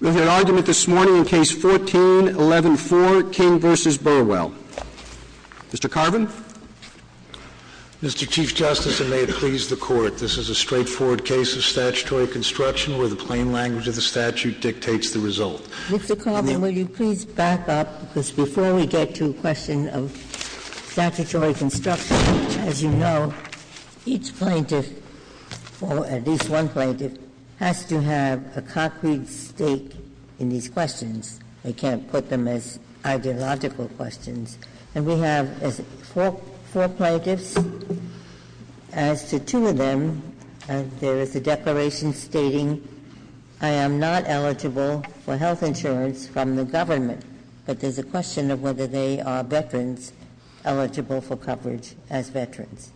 We have an argument this morning in Case 14-11-4, Kim v. Burwell. Mr. Carbin? Mr. Chief Justice, and may it please the Court, this is a straightforward case of statutory construction where the plain language of the statute dictates the result. Mr. Carbin, will you please back up, because before we get to the question of statutory construction, as you know, each plaintiff, or at least one plaintiff, has to have a concrete stake in these questions. I can't put them as ideological questions. And we have four plaintiffs. As to two of them, there is a declaration stating, I am not eligible for health insurance from the government. But there's a question of whether they are, brethren, eligible for coverage as veterans.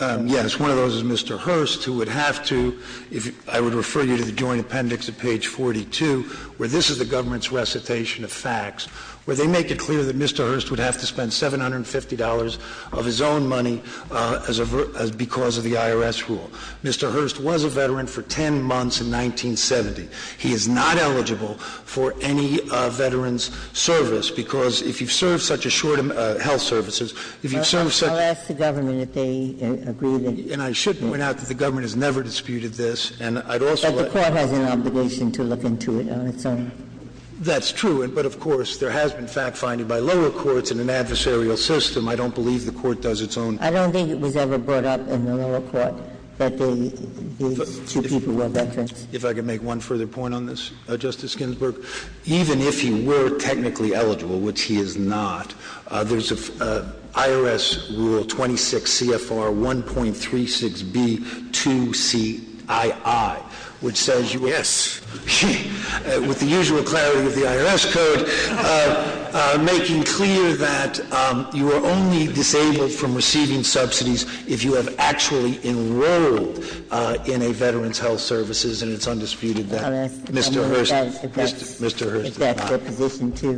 Yes, one of those is Mr. Hurst, who would have to, I would refer you to the Joint Appendix at page 42, where this is the government's recitation of facts, where they make it clear that Mr. Hurst would have to spend $750 of his own money because of the IRS rule. Mr. Hurst was a veteran for 10 months in 1970. He is not eligible for any veteran's service, because if you serve such a short amount of health services, if you serve such a — I'll ask the government if they agree that — And I shouldn't point out that the government has never disputed this. And I'd also — But the Court has an obligation to look into it, Your Honor. That's true. But of course, there has been fact-finding by lower courts in an adversarial system. I don't believe the Court does its own — I don't think it was ever brought up in the lower court that the two people were veterans. If I could make one further point on this, Justice Ginsburg. Even if you were technically eligible, which he is not, there's an IRS Rule 26 CFR 1.36B2CII, which says, yes, with the usual clarity of the IRS, sir, making clear that you are only disabled from receiving subsidies if you have actually enrolled in a veteran's health services, and it's undisputed that Mr. Hurst is not.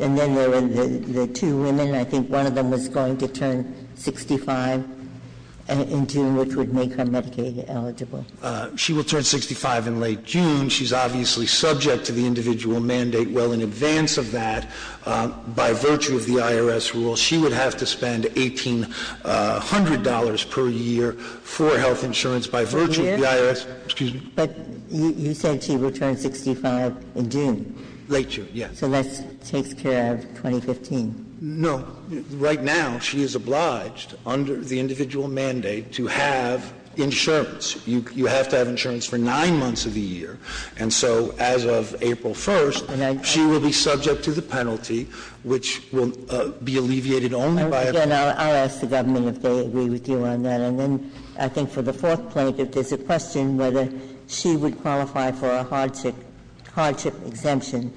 And then there were the two women. I think one of them was going to turn 65 in June, which would make her Medicaid eligible. She would turn 65 in late June. She's obviously subject to the individual mandate. Well, in advance of that, by virtue of the IRS Rule, she would have to spend $1,800 per year for health insurance by virtue of the IRS — But you said she would turn 65 in June. Late June, yes. So let's take care of 2015. No. Right now, she is obliged, under the individual mandate, to have insurance. You have to have insurance for nine months of the year. And so as of April 1st, she will be subject to the penalty, which will be alleviated only by — Again, I'll ask the government if they agree with you on that. And then I think for the fourth point, if there's a question whether she would qualify for a hardship exemption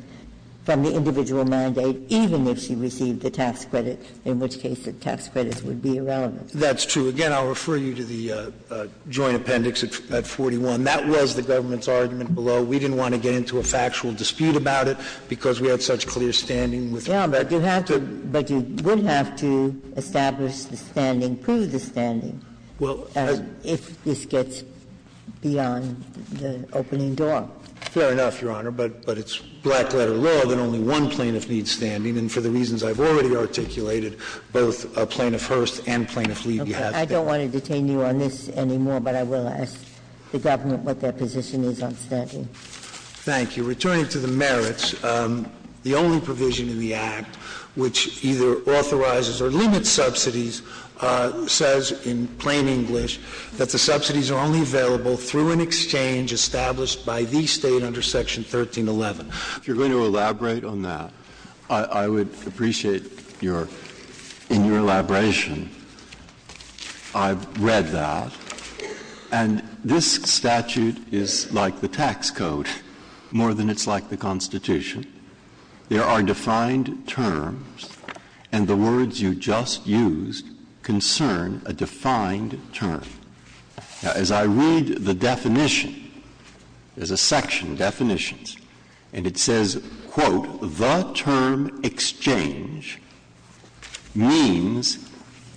from the individual mandate, even if she received the tax credits, in which case her tax credits would be irrelevant. That's true. Again, I'll refer you to the Joint Appendix at 41. That was the government's argument below. We didn't want to get into a factual dispute about it because we have such clear standing. But you would have to establish the standing, prove the standing, if this gets beyond the opening door. Fair enough, Your Honor. But it's black-letter law that only one plaintiff needs standing, and for the reasons I've already articulated, both a plaintiff-first and plaintiff-lead — I don't want to detain you on this anymore, but I will ask the government what their position is on standing. Thank you. In return for the merits, the only provision in the Act, which either authorizes or limits subsidies, says in plain English that the subsidies are only available through an exchange established by the state under Section 1311. If you're going to elaborate on that, I would appreciate your elaboration. I've read that, and this statute is like the tax code more than it's like the Constitution. There are defined terms, and the words you just used concern a defined term. As I read the definition, there's a section of definitions, and it says, quote, the term exchange means,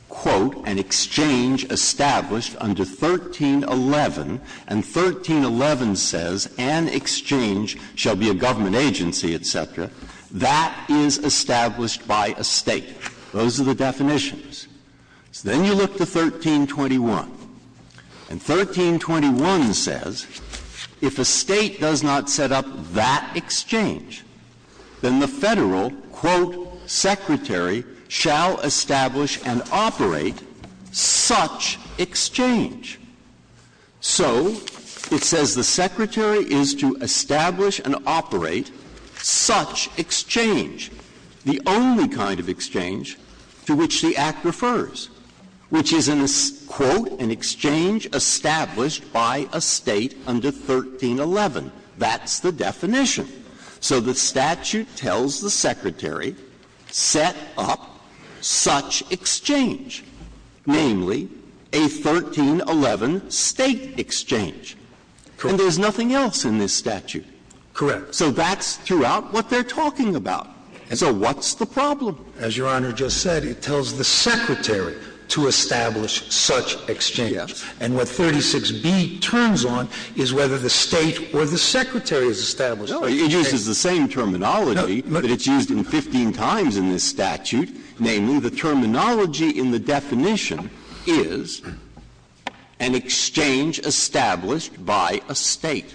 quote, an exchange established under 1311, and 1311 says an exchange shall be a government agency, etc. That is established by a state. Those are the definitions. Then you look to 1321, and 1321 says if a state does not set up that exchange, then the federal, quote, secretary shall establish and operate such exchange. So it says the secretary is to establish and operate such exchange, the only kind of exchange to which the Act refers, which is, quote, an exchange established by a state under 1311. That's the definition. So the statute tells the secretary set up such exchange, namely, a 1311 state exchange. And there's nothing else in this statute. Correct. So that's throughout what they're talking about. So what's the problem? As Your Honor just said, it tells the secretary to establish such exchange. And what 36B turns on is whether the state or the secretary is established. No, it uses the same terminology, but it's used 15 times in this statute, namely, the terminology in the definition is an exchange established by a state.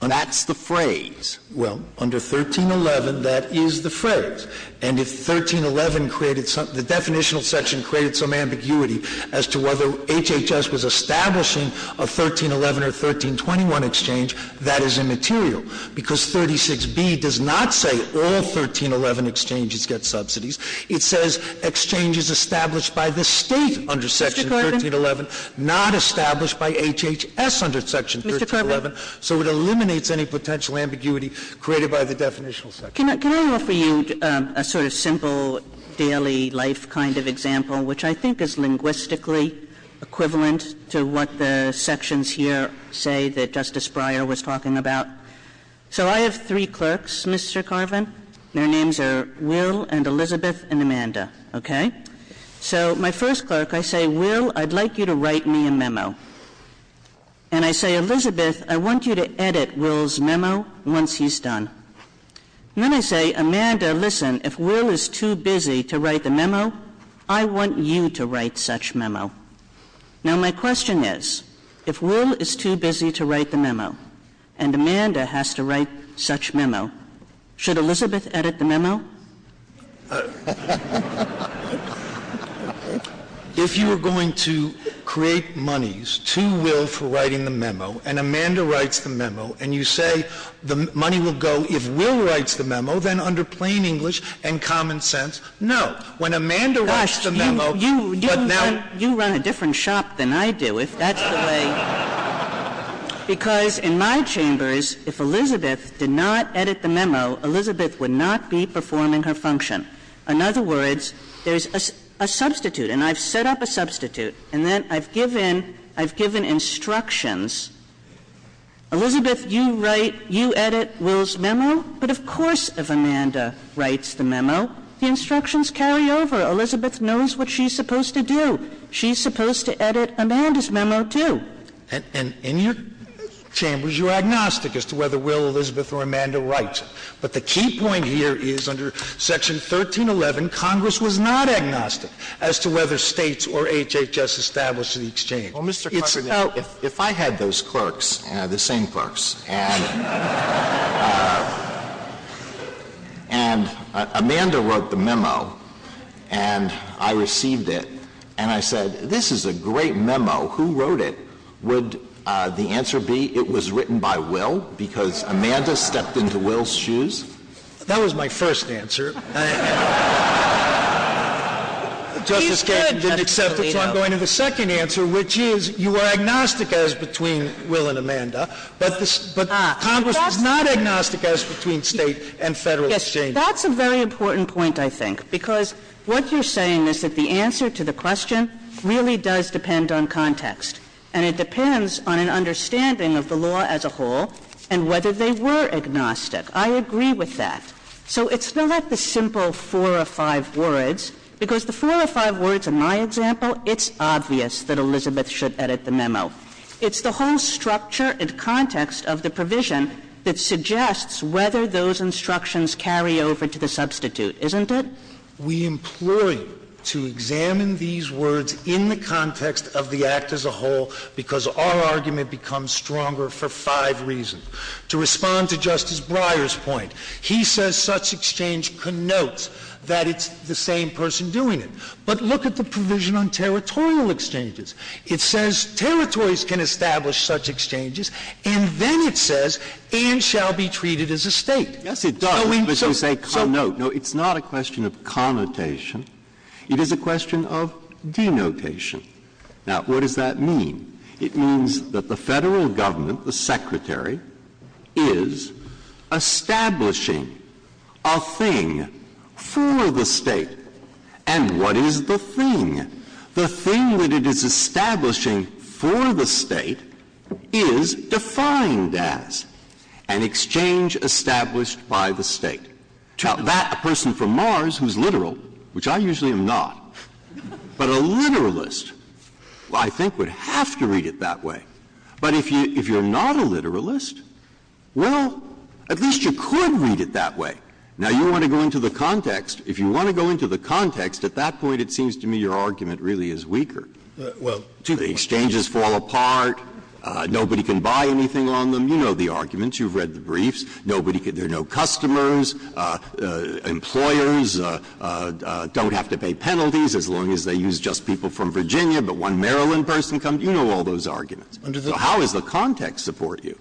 That's the phrase. Well, under 1311, that is the phrase. And if 1311 created something, the definitional section created some ambiguity as to whether HHS was establishing a 1311 or 1321 exchange, that is immaterial because 36B does not say all 1311 exchanges get subsidies. It says exchange is established by the state under section 1311, not established by HHS under section 1311. So it eliminates any potential ambiguity created by the definitional section. Can I offer you a sort of simple daily life kind of example, which I think is linguistically equivalent to what the sections here say that Justice Breyer was talking about? So I have three clerks, Mr. Carvin. Their names are Will and Elizabeth and Amanda. Okay? So my first clerk, I say, Will, I'd like you to write me a memo. And I say, Elizabeth, I want you to edit Will's memo once he's done. Then I say, Amanda, listen, if Will is too busy to write the memo, I want you to write such memo. Now my question is, if Will is too busy to write the memo and Amanda has to write such memo, should Elizabeth edit the memo? If you were going to create monies to Will for writing the memo and Amanda writes the memo and you say the money will go if Will writes the memo, then under plain English and common sense, no. When Amanda writes the memo... You run a different shop than I do, if that's the way... Because in my chambers, if Elizabeth did not edit the memo, Elizabeth would not be performing her function. In other words, there's a substitute, and I've set up a substitute, and then I've given instructions. Elizabeth, you edit Will's memo, but of course if Amanda writes the memo, the instructions carry over. Elizabeth knows what she's supposed to do. She's supposed to edit Amanda's memo, too. And in your chambers, you're agnostic as to whether Will, Elizabeth, or Amanda writes. But the key point here is, under Section 1311, Congress was not agnostic as to whether states or HHS established an exchange. Well, Mr. Kucinich, if I had those clerks, the same clerks, and Amanda wrote the memo and I received it, and I said, this is a great memo, who wrote it, would the answer be it was written by Will because Amanda stepped into Will's shoes? That was my first answer. The Justice Department didn't accept it, so I'm going to the second answer, which is you are agnostic as between Will and Amanda, but Congress is not agnostic as between states and federal exchanges. That's a very important point, I think, because what you're saying is that the answer to the question really does depend on context, and it depends on an understanding of the law as a whole and whether they were agnostic. I agree with that. So it's not like the simple four or five words, because the four or five words in my example, it's obvious that Elizabeth should edit the memo. It's the whole structure and context of the provision that suggests whether those instructions carry over to the substitute, isn't it? We implore you to examine these words in the context of the act as a whole because our argument becomes stronger for five reasons. To respond to Justice Breyer's point, he says such exchange connotes that it's the same person doing it. But look at the provision on territorial exchanges. It says territories can establish such exchanges, and then it says and shall be treated as a state. Yes, it does. No, it's not a question of connotation. It is a question of denotation. Now, what does that mean? It means that the federal government, the secretary, is establishing a thing for the state. And what is the thing? The thing that it is establishing for the state is defined as an exchange established by the state. Now, that person from Mars who's literal, which I usually am not, but a literalist, I think, would have to read it that way. But if you're not a literalist, well, at least you could read it that way. Now, you want to go into the context. If you want to go into the context, at that point, it seems to me your argument really is weaker. Do the exchanges fall apart? Nobody can buy anything on them? You know the arguments. You've read the briefs. There are no customers. Employers don't have to pay penalties as long as they use just people from Virginia, but one Maryland person comes. You know all those arguments. So how does the context support you?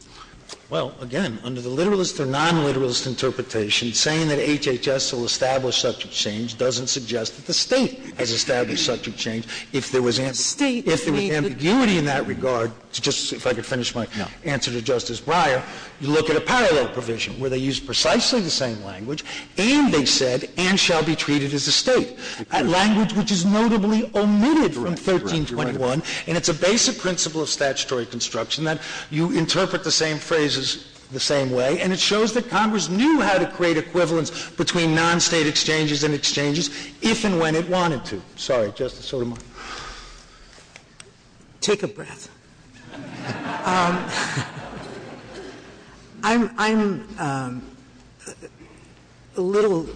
Well, again, under the literalist or non-literalist interpretation, saying that HHS will establish such exchange doesn't suggest that the state has established such exchange. If there was ambiguity in that regard, just to see if I could finish my answer to Justice Breyer, you look at a parallel provision where they use precisely the same language, and they said, and shall be treated as a state, a language which is notably omitted from 1321, and it's a basic principle of statutory construction that you interpret the same phrases the same way, and it shows that Congress knew how to create equivalence between non-state exchanges and exchanges if and when it wanted to. Sorry, Justice Sotomayor. Take a breath. I'm a little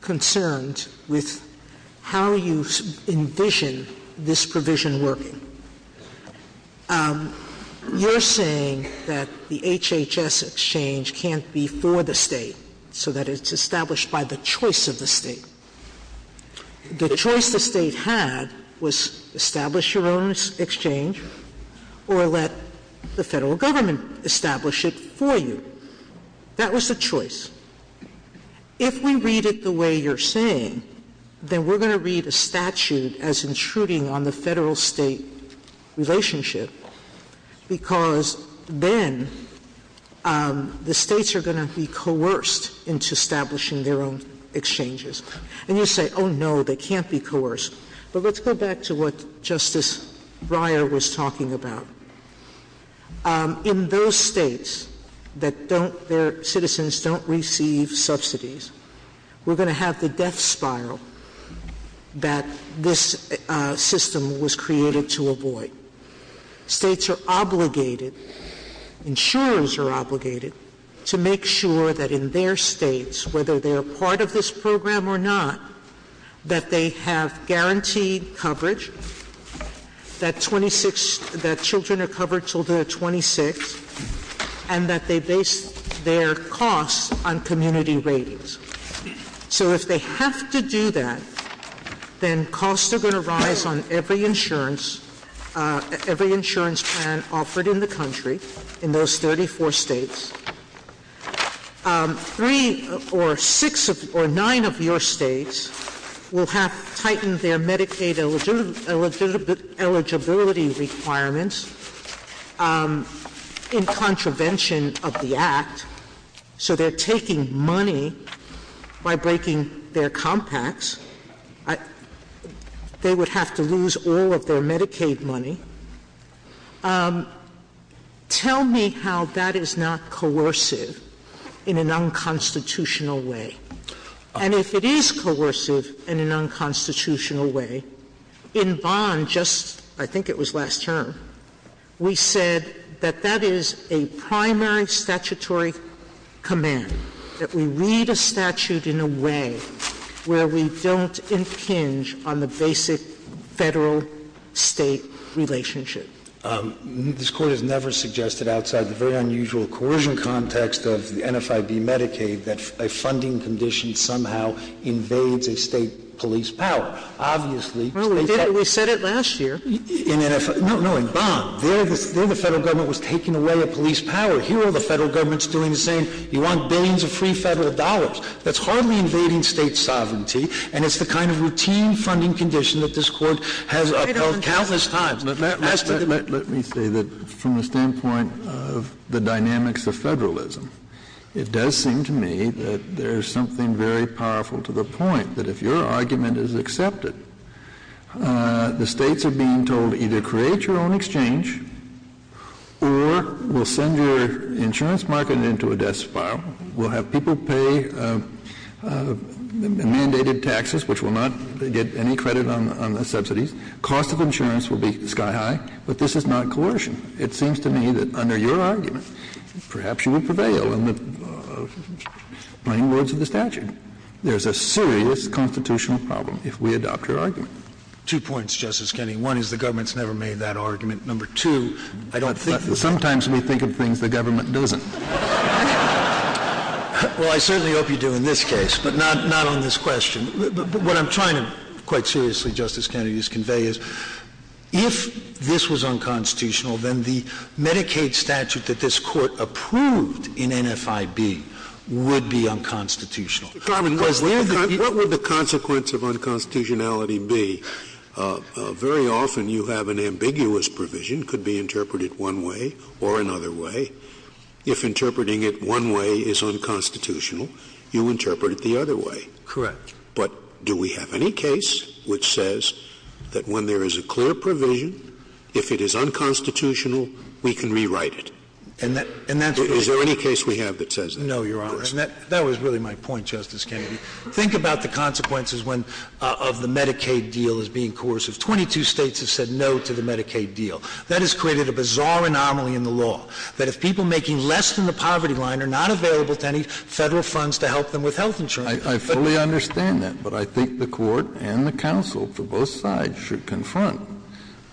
concerned with how you envision this provision working. You're saying that the HHS exchange can't be for the state so that it's established by the choice of the state. The choice the state had was establish your own exchange or let the federal government establish it for you. That was the choice. If we read it the way you're saying, then we're going to read the statute as intruding on the federal-state relationship because then the states are going to be coerced into establishing their own exchanges. And you say, oh, no, they can't be coerced. But let's go back to what Justice Breyer was talking about. In those states that citizens don't receive subsidies, we're going to have the death spiral that this system was created to avoid. States are obligated, insurers are obligated, to make sure that in their states, whether they're part of this program or not, that they have guaranteed coverage, that children are covered until they're 26, and that they base their costs on community ratings. So if they have to do that, then costs are going to rise on every insurance plan offered in the country in those 34 states. Three or six or nine of your states will have tightened their Medicaid eligibility requirements in contravention of the Act. So they're taking money by breaking their compacts. They would have to lose all of their Medicaid money. Tell me how that is not coercive in an unconstitutional way. And if it is coercive in an unconstitutional way, in Bond, just I think it was last term, we said that that is a primary statutory command, that we read a statute in a way where we don't impinge on the basic federal-state relationship. This Court has never suggested, outside the very unusual coercion context of the NFIB Medicaid, that a funding condition somehow invades a state police power. Well, we said it last year. No, no, in Bond. There the federal government was taking away a police power. Here the federal government's doing the same. You want billions of free federal dollars. That's hardly invading state sovereignty, and it's the kind of routine funding condition that this Court has held countless times. Let me say that from the standpoint of the dynamics of federalism, it does seem to me that there is something very powerful to the point that if your argument is accepted, the states are being told either create your own exchange or we'll send your insurance market into a death spiral. We'll have people pay mandated taxes, which will not get any credit on the subsidies. Cost of insurance will be sky-high. But this is not coercion. It seems to me that under your argument, perhaps you would prevail in the plain words of the statute. There's a serious constitutional problem if we adopt your argument. Two points, Justice Kennedy. One is the government's never made that argument. Number two, I don't think... Sometimes we think of things the government doesn't. Well, I certainly hope you do in this case, but not on this question. What I'm trying to quite seriously, Justice Kennedy, convey is if this was unconstitutional, then the Medicaid statute that this Court approved in NFIB would be unconstitutional. What would the consequence of unconstitutionality be? Very often you have an ambiguous provision, could be interpreted one way or another way. If interpreting it one way is unconstitutional, you interpret it the other way. Correct. But do we have any case which says that when there is a clear provision, if it is unconstitutional, we can rewrite it? Is there any case we have that says that? No, Your Honor. That was really my point, Justice Kennedy. Think about the consequences of the Medicaid deal as being coercive. Twenty-two states have said no to the Medicaid deal. That has created a bizarre anomaly in the law, that if people making less than the poverty line are not available to any federal funds to help them with health insurance... I fully understand that, but I think the Court and the counsel to both sides should confront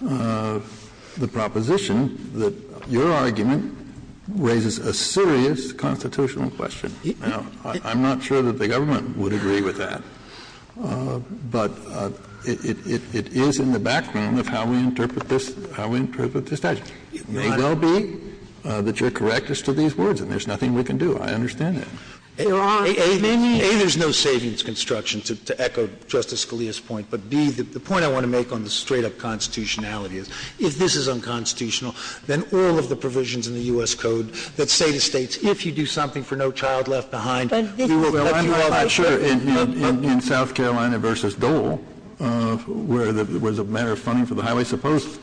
the proposition that your argument raises a serious constitutional question. Now, I'm not sure that the government would agree with that, but it is in the background of how we interpret this statute. It may well be that you're correct as to these words, and there's nothing we can do. I understand that. A, there's no savings construction, to echo Justice Scalia's point, but B, the point I want to make on the straight-up constitutionality, if this is unconstitutional, then all of the provisions in the U.S. Code that say to states, if you do something for no child left behind... Well, I'm not sure. In South Carolina versus Dole, where there was a matter of funding for the highways, the first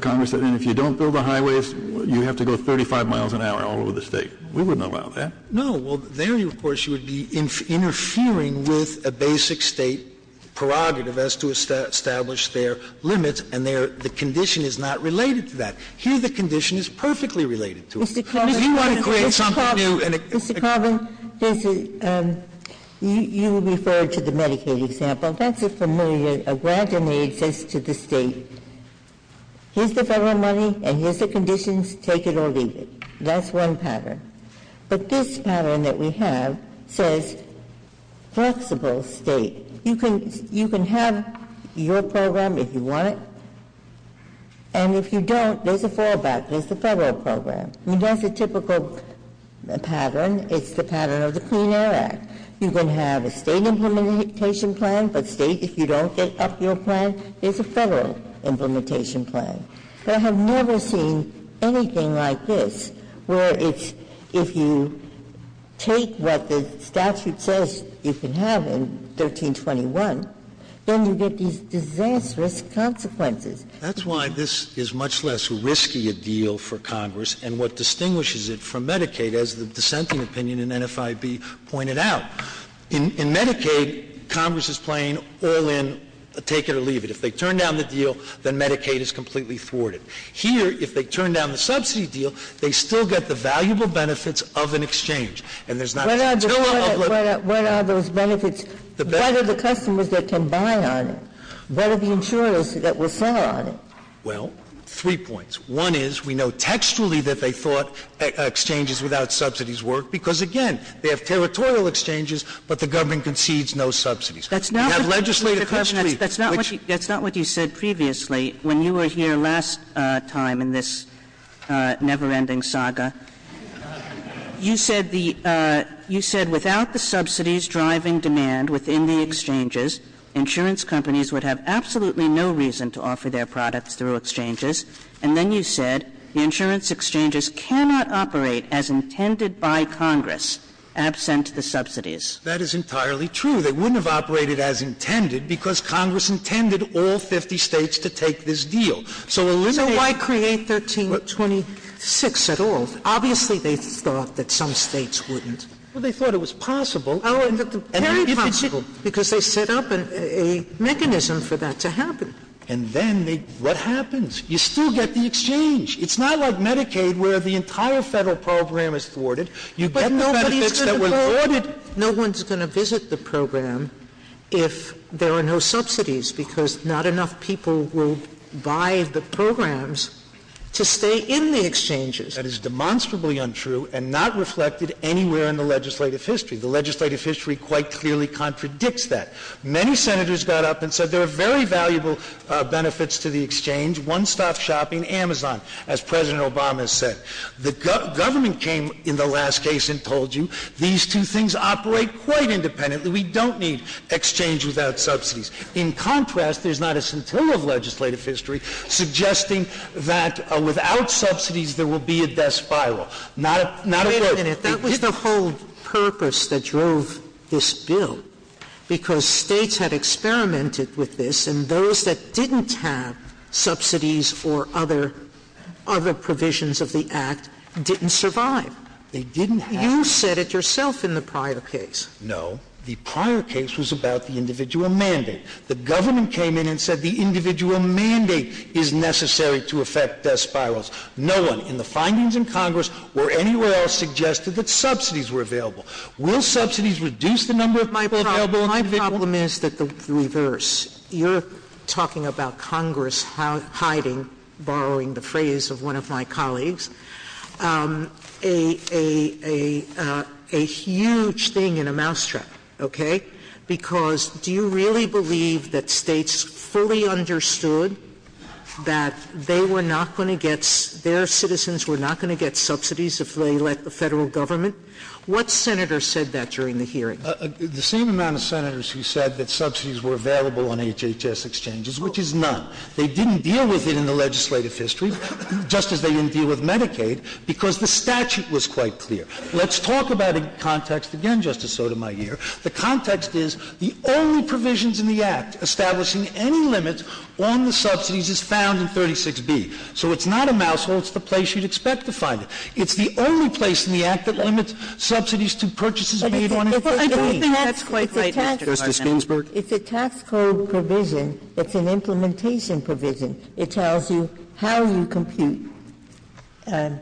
Congress said, if you don't build the highways, you have to go 35 miles an hour all over the state. We wouldn't allow that. No. Well, there, of course, you would be interfering with a basic state prerogative as to establish their limits, and the condition is not related to that. Here, the condition is perfectly related to it. If you want to create something new... Mr. Carver, you referred to the Medicaid example. That's a familiar, a grander name, says to the state, here's the federal money and here's the conditions. Take it or leave it. That's one pattern. But this pattern that we have says flexible state. You can have your program if you want, and if you don't, there's a fallback. There's a federal program. That's a typical pattern. It's the pattern of the Clean Air Act. You can have a state implementation plan, but state, if you don't get up your plan, there's a federal implementation plan. I have never seen anything like this, where if you take what the statute says you can have in 1321, then you get these disastrous consequences. That's why this is much less risky a deal for Congress and what distinguishes it from Medicaid, as the dissenting opinion in NFIB pointed out. In Medicaid, Congress is playing all in, take it or leave it. If they turn down the deal, then Medicaid is completely thwarted. Here, if they turn down the subsidy deal, they still get the valuable benefits of an exchange. What are those benefits? The better the customers that can buy on it, the better the insurers that will sell on it. Well, three points. One is we know textually that they thought exchanges without subsidies worked, because, again, they have territorial exchanges, but the government concedes no subsidies. That's not what you said previously. When you were here last time in this never-ending saga, you said without the subsidies driving demand within the exchanges, insurance companies would have absolutely no reason to offer their products through exchanges, and then you said the insurance exchanges cannot operate as intended by Congress, absent the subsidies. That is entirely true. They wouldn't have operated as intended, because Congress intended all 50 states to take this deal. So why create 1326 at all? Obviously they thought that some states wouldn't. Well, they thought it was possible. Very possible. Because they set up a mechanism for that to happen. And then what happens? You still get the exchange. It's not like Medicaid, where the entire federal program is thwarted. You get the benefits that were thwarted. No one's going to visit the program if there are no subsidies, because not enough people will buy the programs to stay in the exchanges. That is demonstrably untrue and not reflected anywhere in the legislative history. The legislative history quite clearly contradicts that. Many senators got up and said there are very valuable benefits to the exchange. One-stop shopping, Amazon, as President Obama said. The government came in the last case and told you, these two things operate quite independently. We don't need exchange without subsidies. In contrast, there's not a century of legislative history suggesting that without subsidies there will be a death spiral. That was the whole purpose that drove this bill, because states had experimented with this, and those that didn't have subsidies or other provisions of the act didn't survive. You said it yourself in the prior case. No. The prior case was about the individual mandate. The government came in and said the individual mandate is necessary to effect death spirals. No one in the findings in Congress or anywhere else suggested that subsidies were available. Will subsidies reduce the number of people available? My problem is the reverse. You're talking about Congress hiding, borrowing the phrase of one of my colleagues, a huge thing in a mousetrap. Because do you really believe that states fully understood that their citizens were not going to get subsidies if they let the federal government? What senator said that during the hearing? The same amount of senators who said that subsidies were available on HHS exchanges, which is none. They didn't deal with it in the legislative history, just as they didn't deal with Medicaid, because the statute was quite clear. Let's talk about it in context again, Justice Sotomayor. The context is the only provisions in the act establishing any limits on the subsidies is found in 36B. So it's not a mousetrap, it's the place you'd expect to find it. It's the only place in the act that limits subsidies to purchases made on HHS. I don't think that's quite right, Justice Ginsburg. It's a tax code provision. It's an implementation provision. It tells you how you compute the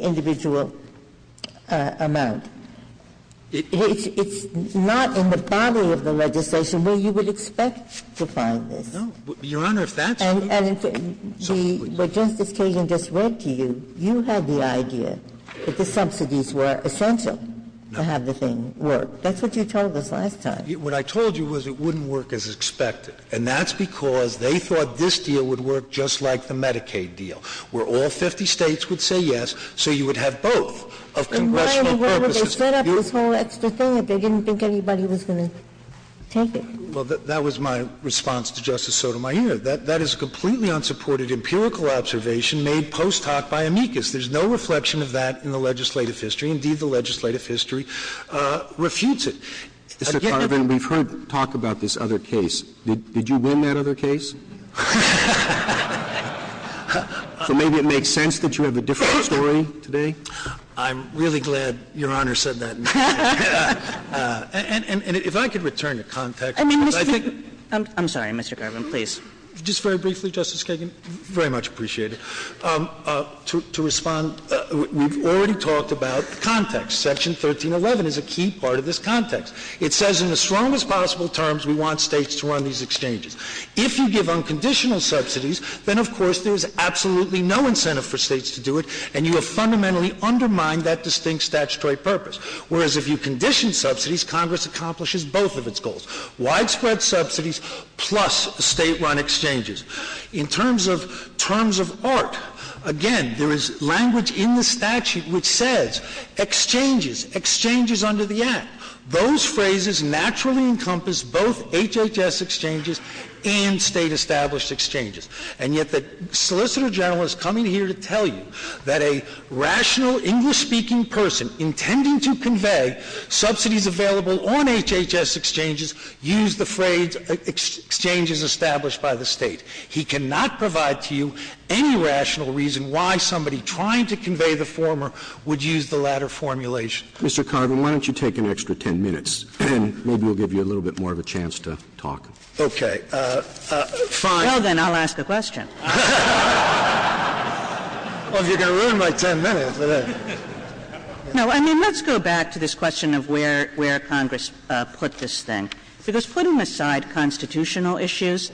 individual amount. It's not in the body of the legislation where you would expect to find it. Your Honor, if that's the case. What Justice Kagan just read to you, you had the idea that the subsidies were essential to have the thing work. That's what you told us last time. What I told you was it wouldn't work as expected. And that's because they thought this deal would work just like the Medicaid deal, where all 50 states would say yes, so you would have both of congressional purposes. Why would they set up the whole extra thing if they didn't think anybody was going to take it? Well, that was my response to Justice Sotomayor. That is a completely unsupported empirical observation made post hoc by amicus. There's no reflection of that in the legislative history. Indeed, the legislative history refutes it. Mr. Carvin, we've heard talk about this other case. Did you win that other case? Or maybe it makes sense that you have a different story today. I'm really glad Your Honor said that. And if I could return your contact. I'm sorry, Mr. Carvin, please. Just very briefly, Justice Kagan, very much appreciated. To respond, we've already talked about context. Section 1311 is a key part of this context. It says in the strongest possible terms we want states to run these exchanges. If you give unconditional subsidies, then of course there is absolutely no incentive for states to do it, and you have fundamentally undermined that distinct statutory purpose. Whereas if you condition subsidies, Congress accomplishes both of its goals. Widespread subsidies plus state-run exchanges. In terms of art, again, there is language in the statute which says exchanges, exchanges under the act. Those phrases naturally encompass both HHS exchanges and state-established exchanges. And yet the solicitor general is coming here to tell you that a rational English-speaking person who is intending to convey subsidies available on HHS exchanges use the phrase exchanges established by the state. He cannot provide to you any rational reason why somebody trying to convey the former would use the latter formulation. Mr. Carvin, why don't you take an extra ten minutes? Maybe we'll give you a little bit more of a chance to talk. Okay. Fine. Well, then I'll ask the question. Well, you can ruin my ten minutes with this. No, I mean, let's go back to this question of where Congress put this thing. Because putting aside constitutional issues,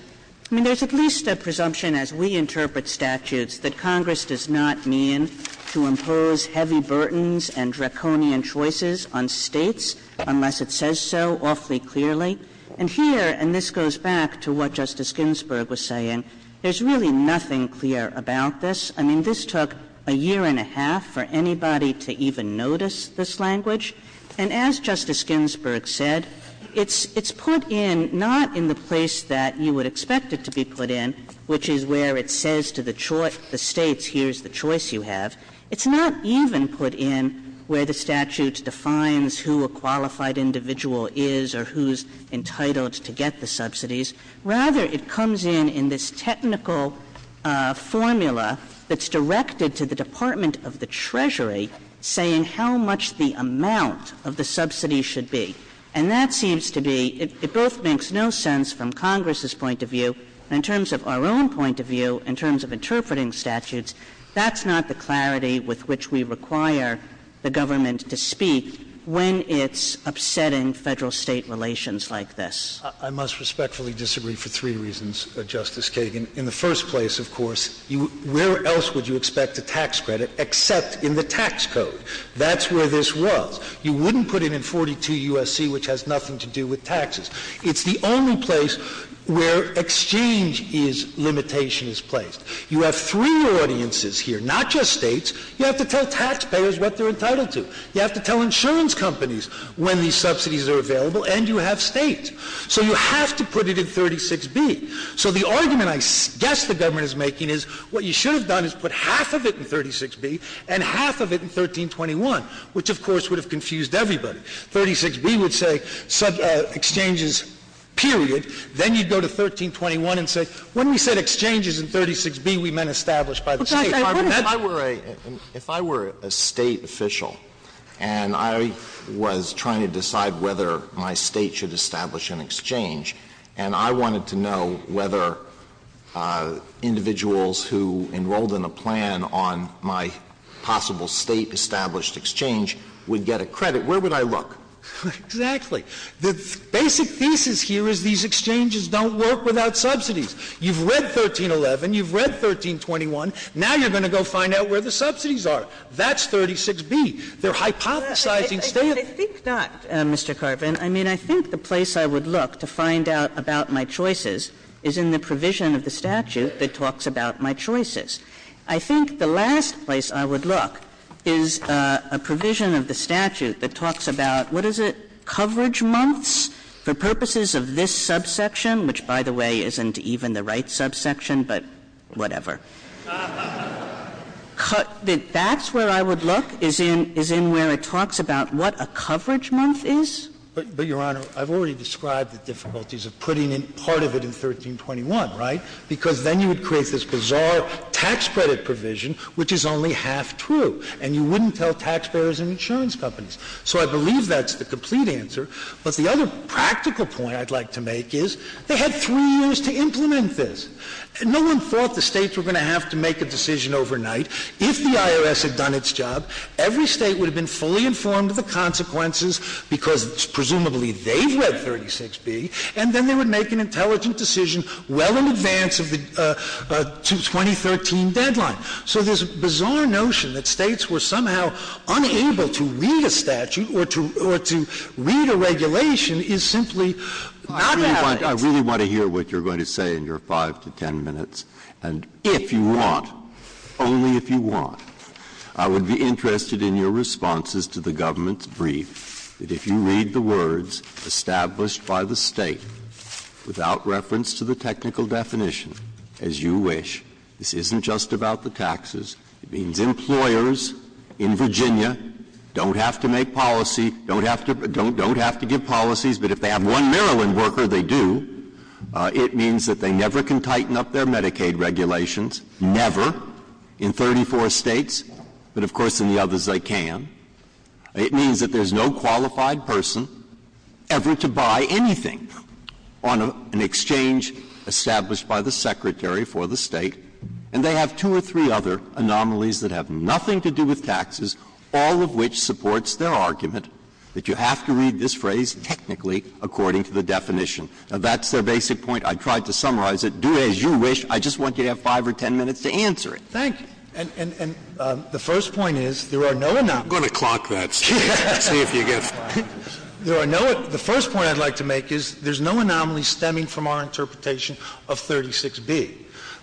there's at least a presumption as we interpret statutes that Congress does not mean to impose heavy burdens and draconian choices on states unless it says so awfully clearly. And here, and this goes back to what Justice Ginsburg was saying, there's really nothing clear about this. I mean, this took a year and a half for anybody to even notice this language. And as Justice Ginsburg said, it's put in not in the place that you would expect it to be put in, which is where it says to the states, here's the choice you have. It's not even put in where the statute defines who a qualified individual is or who's entitled to get the subsidies. Rather, it comes in in this technical formula that's directed to the Department of the Treasury, saying how much the amount of the subsidy should be. And that seems to be, it both makes no sense from Congress's point of view, in terms of our own point of view, in terms of interpreting statutes, that's not the clarity with which we require the government to speak when it's upsetting federal-state relations like this. I must respectfully disagree for three reasons, Justice Kagan. In the first place, of course, where else would you expect a tax credit except in the tax code? That's where this was. You wouldn't put it in 42 U.S.C., which has nothing to do with taxes. It's the only place where exchange limitation is placed. You have three audiences here, not just states. You have to tell taxpayers what they're entitled to. You have to tell insurance companies when these subsidies are available, and you have states. So you have to put it in 36B. So the argument I guess the government is making is what you should have done is put half of it in 36B and half of it in 1321, which, of course, would have confused everybody. 36B would say sub-exchanges, period. Then you go to 1321 and say, when we said exchanges in 36B, we meant established by the state. If I were a state official and I was trying to decide whether my state should establish an exchange and I wanted to know whether individuals who enrolled in a plan on my possible state-established exchange would get a credit, where would I look? Exactly. The basic thesis here is these exchanges don't work without subsidies. You've read 1311. You've read 1321. Now you're going to go find out where the subsidies are. That's 36B. They're hypothesizing standards. I think not, Mr. Carpenter. I mean, I think the place I would look to find out about my choices is in the provision of the statute that talks about my choices. I think the last place I would look is a provision of the statute that talks about, what is it, coverage months? For purposes of this subsection, which, by the way, isn't even the right subsection, but whatever. That's where I would look, is in where it talks about what a coverage month is. But, Your Honor, I've already described the difficulties of putting in part of it in 1321, right? Because then you would create this bizarre tax credit provision, which is only half true, and you wouldn't tell taxpayers and insurance companies. So I believe that's the complete answer. But the other practical point I'd like to make is they had three years to implement this. No one thought the states were going to have to make a decision overnight. If the IRS had done its job, every state would have been fully informed of the consequences, because presumably they read 36B, and then they would make an intelligent decision well in advance of the 2013 deadline. So this bizarre notion that states were somehow unable to read a statute or to read a regulation is simply not valid. I really want to hear what you're going to say in your 5 to 10 minutes, and if you want, only if you want, I would be interested in your responses to the government's brief, that if you read the words established by the state without reference to the technical definition, as you wish, this isn't just about the taxes. It means employers in Virginia don't have to make policy, don't have to give policies, but if they have one Maryland worker, they do. It means that they never can tighten up their Medicaid regulations, never, in 34 states, but of course in the others they can. It means that there's no qualified person ever to buy anything on an exchange established by the secretary for the state, and they have two or three other anomalies that have nothing to do with taxes, all of which supports their argument that you have to read this phrase technically according to the definition. Now that's their basic point. I tried to summarize it. Do as you wish. I just want you to have 5 or 10 minutes to answer it. Thank you. And the first point is there are no anomalies. I'm going to clock that, see if you get it. The first point I'd like to make is there's no anomaly stemming from our interpretation of 36B.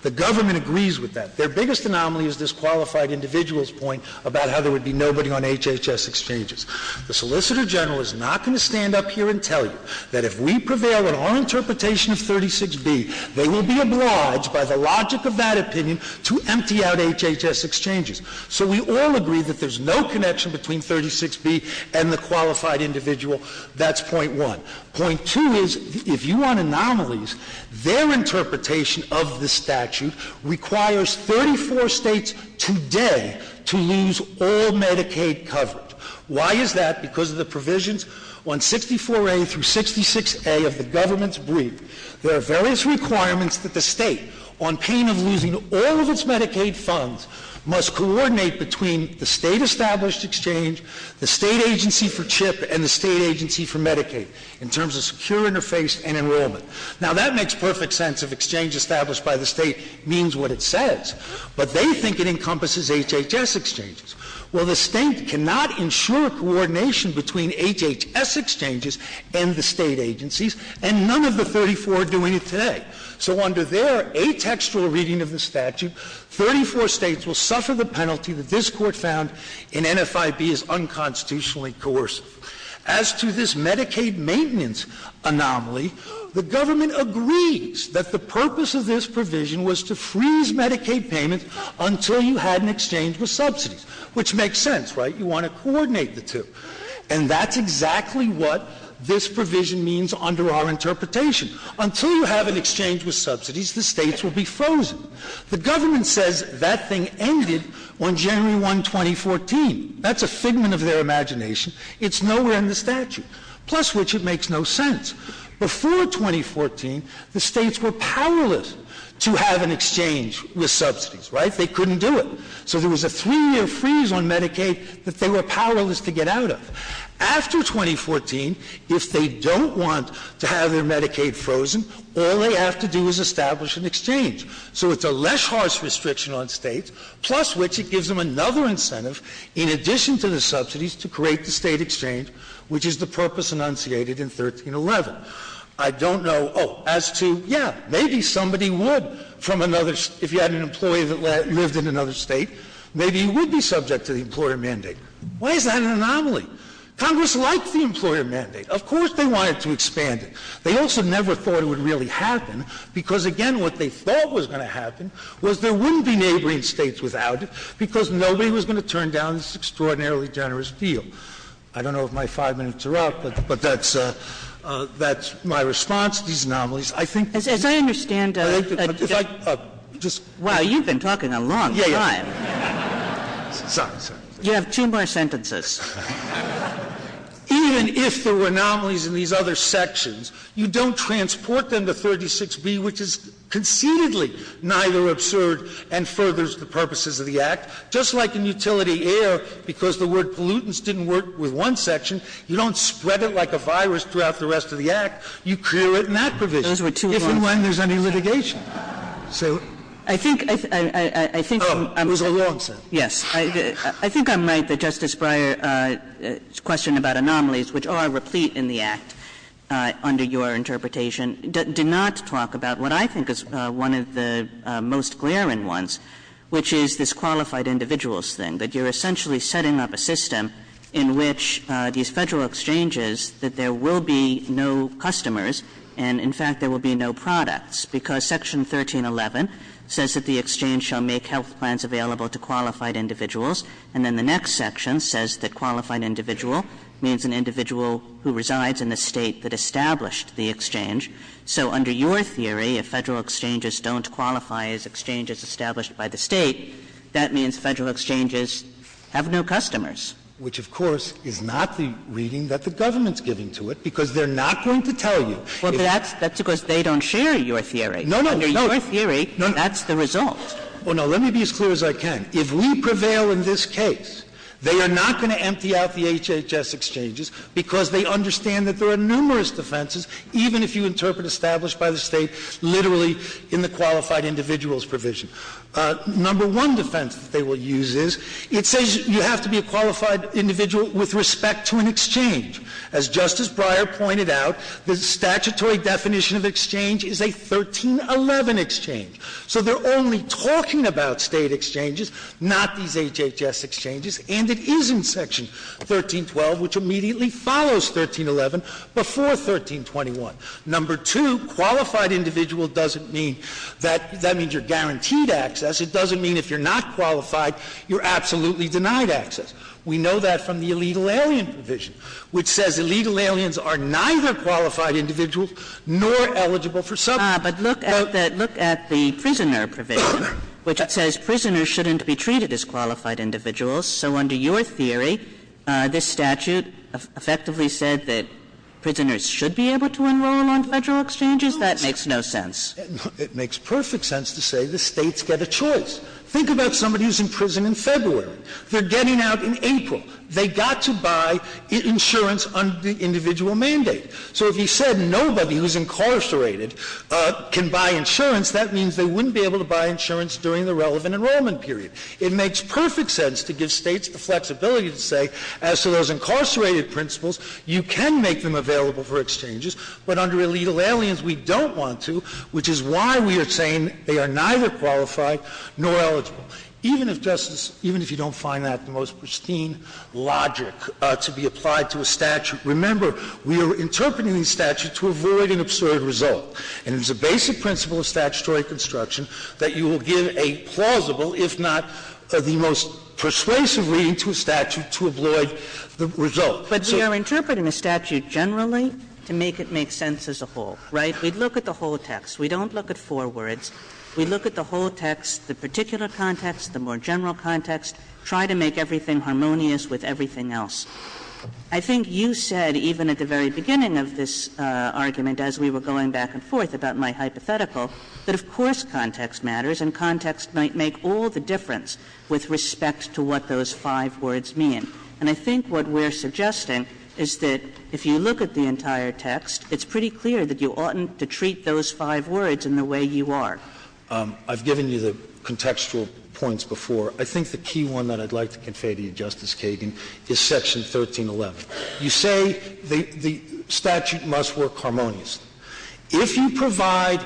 The government agrees with that. Their biggest anomaly is this qualified individual's point about how there would be nobody on HHS exchanges. The Solicitor General is not going to stand up here and tell you that if we prevail in our interpretation of 36B, they will be obliged by the logic of that opinion to empty out HHS exchanges. So we all agree that there's no connection between 36B and the qualified individual. That's point one. Point two is if you want anomalies, their interpretation of the statute requires 34 states today to use all Medicaid coverage. Why is that? Because of the provisions on 64A through 66A of the government's brief. There are various requirements that the state, on payment losing all of its Medicaid funds, must coordinate between the state-established exchange, the state agency for CHIP, and the state agency for Medicaid in terms of secure interface and enrollment. Now, that makes perfect sense if exchange established by the state means what it says, but they think it encompasses HHS exchanges. Well, the state cannot ensure coordination between HHS exchanges and the state agencies, and none of the 34 are doing it today. So under their atextual reading of the statute, 34 states will suffer the penalty that this Court found in NFIB as unconstitutionally coercive. As to this Medicaid maintenance anomaly, the government agrees that the purpose of this provision was to freeze Medicaid payments until you had an exchange with subsidies, which makes sense, right? You want to coordinate the two. And that's exactly what this provision means under our interpretation. Until you have an exchange with subsidies, the states will be frozen. The government says that thing ended on January 1, 2014. That's a figment of their imagination. It's nowhere in the statute, plus which it makes no sense. Before 2014, the states were powerless to have an exchange with subsidies, right? They couldn't do it. So there was a three-year freeze on Medicaid that they were powerless to get out of. After 2014, if they don't want to have their Medicaid frozen, all they have to do is establish an exchange. So it's a less harsh restriction on states, plus which it gives them another incentive in addition to the subsidies to create the state exchange, which is the purpose enunciated in 1311. I don't know, oh, as to, yeah, maybe somebody would, if you had an employee that lived in another state, maybe he would be subject to the employer mandate. Why is that an anomaly? Congress liked the employer mandate. Of course they wanted to expand it. They also never thought it would really happen, because, again, what they thought was going to happen was there wouldn't be neighboring states without it because nobody was going to turn down this extraordinarily generous deal. I don't know if my five minutes are up, but that's my response to these anomalies. As I understand, Wow, you've been talking a long time. You have two more sentences. Even if there were anomalies in these other sections, you don't transport them to 36B, which is confutedly neither absurd and furthers the purposes of the Act, just like in utility air, because the word pollutants didn't work with one section. You don't spread it like a virus throughout the rest of the Act. You clear it in that provision. Those were two long sentences. If and when there's any litigation. Those are long sentences. Yes. I think I'm right that Justice Breyer's question about anomalies, which are replete in the Act under your interpretation, did not talk about what I think is one of the most glaring ones, which is this qualified individuals thing, that you're essentially setting up a system in which these federal exchanges, that there will be no customers. And in fact, there will be no products because section 1311 says that the exchange shall make health plans available to qualified individuals. And then the next section says that qualified individual means an individual who resides in the state that established the exchange. So under your theory, if federal exchanges don't qualify as exchanges established by the state, that means federal exchanges have no customers. Which of course, is not the reading that the government's getting to it because they're not going to tell you. That's because they don't share your theory. No, no, no. That's the result. Well, now let me be as clear as I can. If we prevail in this case, they are not going to empty out the HHS exchanges because they understand that there are numerous defenses, even if you interpret established by the state, literally in the qualified individuals provision. Number one defense that they will use is, it says you have to be a qualified individual with respect to an exchange. As Justice Breyer pointed out, the statutory definition of exchange is a 1311 exchange. So they're only talking about state exchanges, not these HHS exchanges. And it is in section 1312, which immediately follows 1311 before 1321. Number two, qualified individual doesn't mean that, that means you're guaranteed access. It doesn't mean if you're not qualified, you're absolutely denied access. We know that from the illegal alien provision, which says illegal aliens are neither qualified individuals nor eligible for something. But look at that. Look at the prisoner provision, which says prisoners shouldn't be treated as qualified individuals. So under your theory, this statute effectively said that prisoners should be able to enroll on federal exchanges. That makes no sense. It makes perfect sense to say the states get a choice. Think about somebody who's in prison in February. They're getting out in April. They got to buy insurance under the individual mandate. So if you said nobody who's incarcerated can buy insurance, that means they wouldn't be able to buy insurance during the relevant enrollment period. It makes perfect sense to give states the flexibility to say, as to those incarcerated principles, you can make them available for exchanges, but under illegal aliens, we don't want to, which is why we are saying they are neither qualified nor eligible, even if justice, even if you don't find that the most pristine logic to be applied to a statute. Remember, we are interpreting these statutes to avoid an absurd result. And it's a basic principle of statutory construction that you will give a plausible, if not the most persuasive reading to a statute to avoid the result. But we are interpreting the statute generally to make it make sense as a whole, right? We'd look at the whole text. We don't look at four words. We look at the whole text, the particular context, the more general context, try to make everything harmonious with everything else. I think you said, even at the very beginning of this argument, as we were going back and forth about my hypothetical, that of course, context matters and context might make all the difference with respect to what those five words mean. And I think what we're suggesting is that if you look at the entire text, it's pretty clear that you oughtn't to treat those five words in the way you are. I've given you the contextual points before. I think the key one that I'd like to convey to you, Justice Kagan, is section 1311. You say the statute must work harmonious. If you provide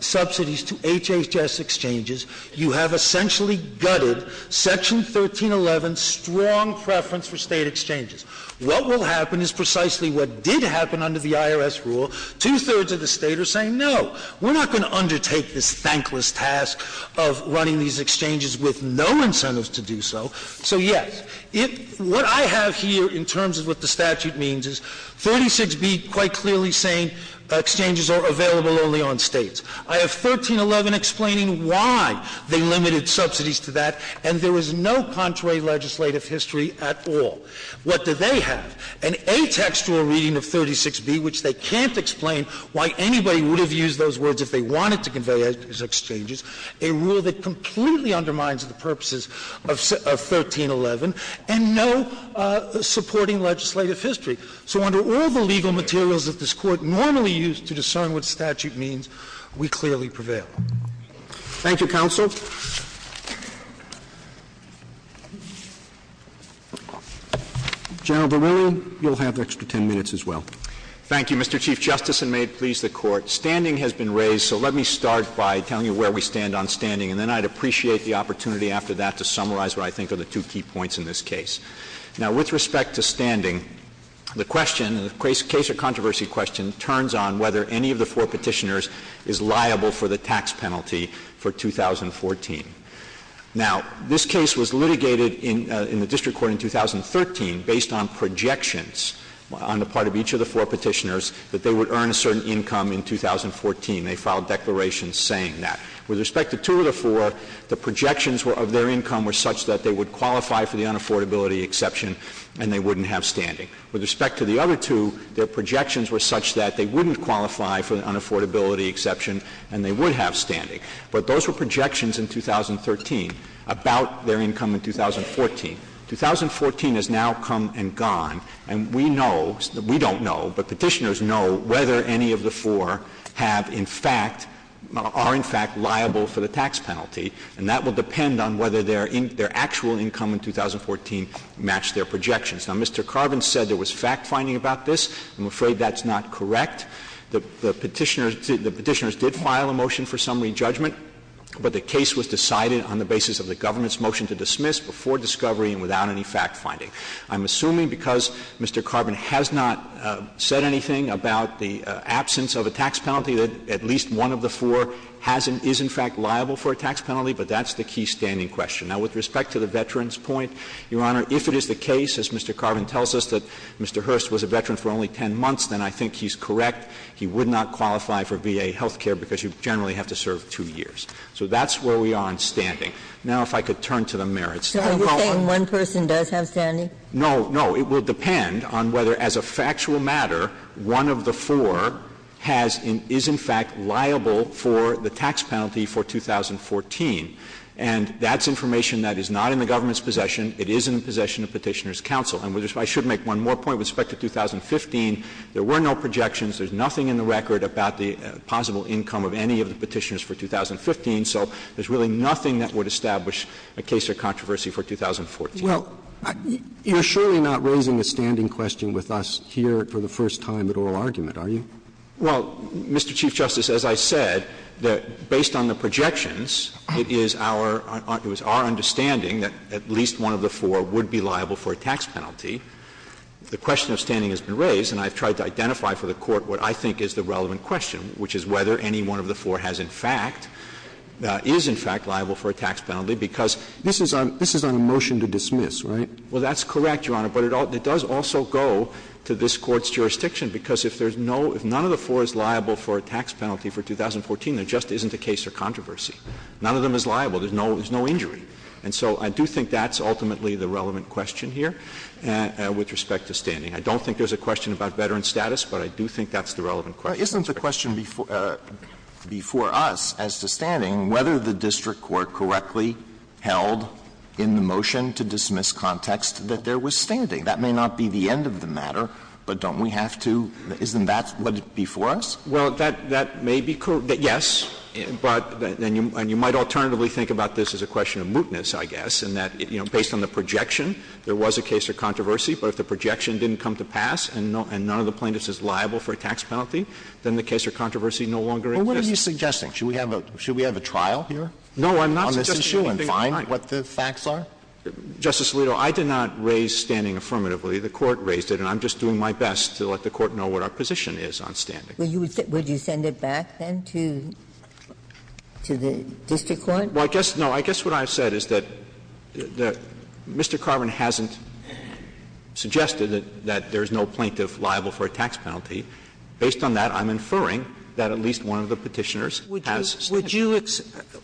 subsidies to HHS exchanges, you have essentially gutted section 1311's strong preference for state exchanges. What will happen is precisely what did happen under the IRS rule. Two-thirds of the state are saying, no, we're not going to undertake this thankless task of running these exchanges with no incentives to do so. So yes, what I have here in terms of what the statute means is 46B quite clearly saying exchanges are available only on states. I have 1311 explaining why they limited subsidies to that, and there was no contrary legislative history at all. What do they have? An A text for a reading of 36B, which they can't explain why anybody would have used those words if they wanted to convey those exchanges, a rule that completely undermines the purposes of 1311, and no supporting legislative history. So under all the legal materials that this Court normally used to discern what was going on, we clearly prevail. Thank you, counsel. General Verrilli, you'll have an extra 10 minutes as well. Thank you, Mr. Chief Justice, and may it please the Court. Standing has been raised, so let me start by telling you where we stand on standing, and then I'd appreciate the opportunity after that to summarize what I think are the two key points in this case. Now, with respect to standing, the question, the case or controversy question turns on whether any of the four petitioners is liable for the tax penalty for 2014. Now, this case was litigated in the district court in 2013 based on projections on the part of each of the four petitioners that they would earn a certain income in 2014. They filed declarations saying that. With respect to two of the four, the projections of their income were such that they would qualify for the unaffordability exception, and they wouldn't have standing. With respect to the other two, their projections were such that they wouldn't qualify for the unaffordability exception, and they would have standing. But those were projections in 2013 about their income in 2014. 2014 has now come and gone, and we know, we don't know, but petitioners know whether any of the four have in fact, are in fact liable for the tax penalty, and that will depend on whether their actual income in 2014 matched their projections. Now, Mr. Carbon said there was fact-finding about this. I'm afraid that's not correct. The petitioners did file a motion for summary judgment, but the case was decided on the basis of the government's motion to dismiss before discovery and without any fact-finding. I'm assuming because Mr. Carbon has not said anything about the absence of a tax penalty, that at least one of the four is in fact liable for a tax penalty, but that's the key standing question. Now, with respect to the veteran's point, Your Honor, if it is the case, as Mr. Carbon tells us, that Mr. Hurst was a veteran for only 10 months, then I think he's correct. He would not qualify for VA health care because you generally have to serve two years. So that's where we are in standing. Now, if I could turn to the merits. Are you saying one person does have standing? No, no. It will depend on whether as a factual matter, one of the four has, is in fact liable for the tax penalty for 2014, and that's information that is not in the government's possession. It is in the possession of Petitioner's Counsel. And I should make one more point with respect to 2015. There were no projections. There's nothing in the record about the possible income of any of the Petitioners for 2015. So there's really nothing that would establish a case of controversy for 2014. Well, you're surely not raising the standing question with us here for the first time at oral argument, are you? Well, Mr. Chief Justice, as I said, that based on the projections, it is our, it was our understanding that at least one of the four would be liable for a tax penalty. The question of standing has been raised and I've tried to identify for the court what I think is the relevant question, which is whether any one of the four has in fact, is in fact liable for a tax penalty, because this is on, this is on a motion to dismiss, right? Well, that's correct, Your Honor, but it does also go to this court's jurisdiction because if there's no, if none of the four is liable for a tax penalty for 2014, it just isn't a case for controversy. None of them is liable. There's no, there's no injury. And so I do think that's ultimately the relevant question here. And with respect to standing, I don't think there's a question about veteran status, but I do think that's the relevant question. It's a question before, uh, before us as to standing, whether the district court correctly held in the motion to dismiss context that there was standing, that may not be the end of the matter, but don't we have to, isn't that before us? that, that may be correct, but yes, but then you, and you might alternatively think about this as a question of mootness, I guess, and that, you know, based on the projection, there was a case of controversy, but if the projection didn't come to pass and none of the plaintiffs is liable for a tax penalty, then the case of controversy no longer exists. Well, what are you suggesting? Should we have a, should we have a trial here? No, I'm not suggesting anything tonight. What the facts are? Justice Alito, I did not raise standing affirmatively. The court raised it and I'm just doing my best to let the court know what our position is on standing. Would you, would you send it back then to, to the district court? Well, I guess, no, I guess what I've said is that, that Mr. Carvin hasn't suggested that, that there is no plaintiff liable for a tax penalty. Based on that, I'm inferring that at least one of the petitioners. Would you, would you,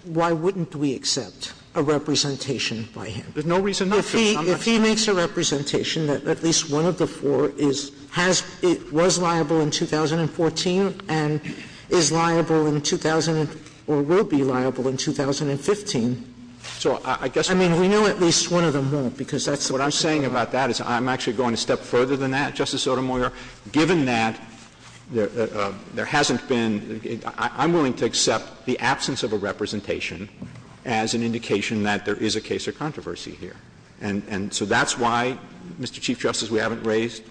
why wouldn't we accept a representation by him? There's no reason. If he, if he makes a representation that at least one of the four is, has, it was liable in 2014 and is liable in 2000, or will be liable in 2015. So I guess, I mean, we know at least one of them won't because that's what I'm saying about that is I'm actually going to step further than that. Justice Sotomayor, given that there, there hasn't been, I'm willing to accept the absence of a representation as an indication that there is a case of controversy here. And, and so that's why Mr. Chief Justice, we haven't raised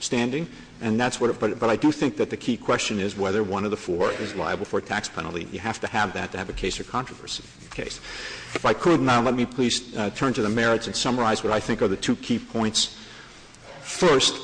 standing and that's what, but I do think that the key question is whether one of the four is liable for a tax penalty. You have to have that to have a case of controversy. Okay. If I could now, let me please turn to the merits and summarize what I think are the two key points. First,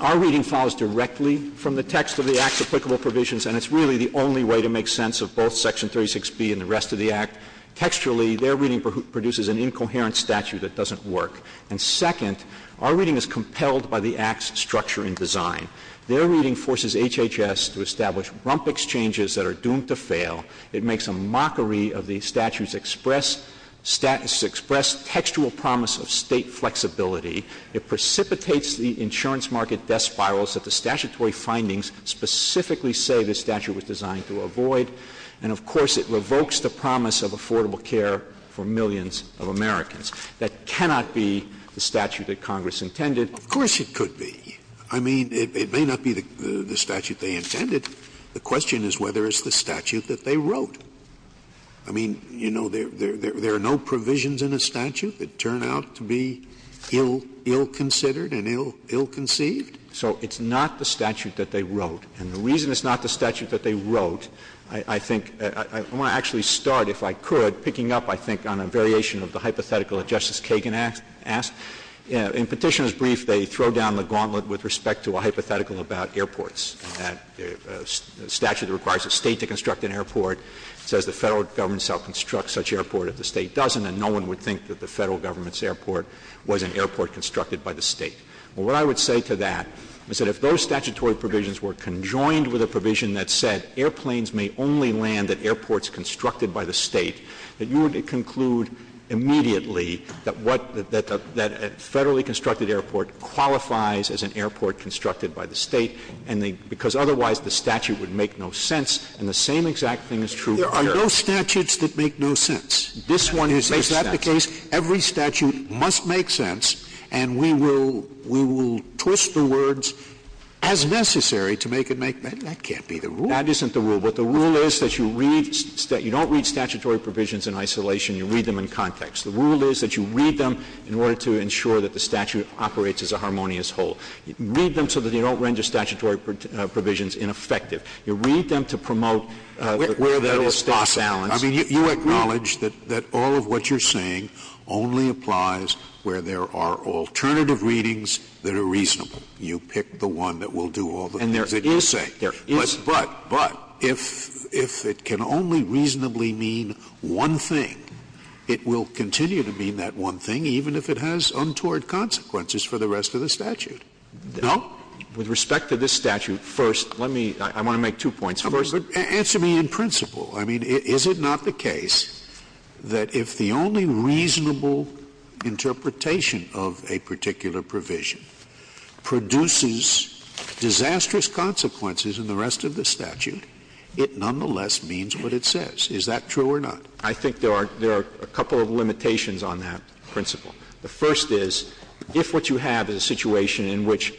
our reading follows directly from the text of the Act's applicable provisions, and it's really the only way to make sense of both section 36B and the rest of the Act. Textually, their reading produces an incoherent statute that doesn't work. And second, our reading is compelled by the Act's structure and design. Their reading forces HHS to establish rump exchanges that are doomed to fail. It makes a mockery of the statute's express status, express textual promise of state flexibility. It precipitates the insurance market death spirals that the statutory findings specifically say the statute was designed to avoid. And of course it revokes the promise of affordable care for millions of Americans. That cannot be the statute that Congress intended. Of course it could be. I mean, it may not be the statute they intended. The question is whether it's the statute that they wrote. I mean, you know, there are no provisions in a statute that turn out to be ill considered and ill conceived. So it's not the statute that they wrote. And the reason it's not the statute that they wrote, I think, I want to actually start, if I could, picking up, I think on a variation of the hypothetical that Justice Kagan asked. In Petitioner's brief, they throw down the gauntlet with respect to a hypothetical about airports. The statute requires a state to construct an airport. It says the federal government shall construct such airport if the state doesn't, and no one would think that the federal government's airport was an airport constructed by the state. Well, what I would say to that is that if those statutory provisions were conjoined with a provision that said airplanes may only land at airports constructed by the state, that you would conclude immediately that a federally constructed airport qualifies as an airport constructed by the state, because otherwise the statute would make no sense. And the same exact thing is true. There are no statutes that make no sense. This one is exactly the case. Every statute must make sense, and we will twist the words as necessary to make it make sense. That can't be the rule. That isn't the rule. But the rule is that you don't read statutory provisions in isolation. You read them in context. The rule is that you read them in order to ensure that the statute operates as a harmonious whole. You read them so that you don't render statutory provisions ineffective. You read them to promote the federal status quo. I mean, you acknowledge that all of what you're saying only applies where there are alternative readings that are reasonable. You pick the one that will do all the things that you say. But if it can only reasonably mean one thing, it will continue to be that one thing, even if it has untoward consequences for the rest of the statute. No. With respect to this statute, first, let me, I want to make two points. First, answer me in principle. I mean, is it not the case that if the only reasonable interpretation of a provision is in the rest of the statute, it nonetheless means what it says? Is that true or not? I think there are, there are a couple of limitations on that principle. The first is, if what you have is a situation in which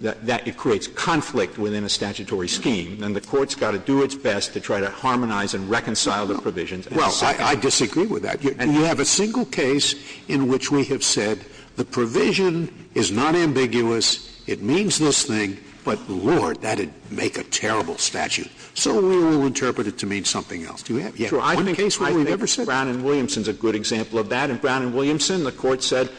that creates conflict within a statutory scheme, then the court's got to do its best to try to harmonize and reconcile the provision. Well, I disagree with that. And you have a single case in which we have said the provision is not ambiguous. It means this thing, but Lord, that'd make a terrible statute. So we'll interpret it to mean something else. I think Brown and Williamson's a good example of that. And Brown and Williamson, the court said,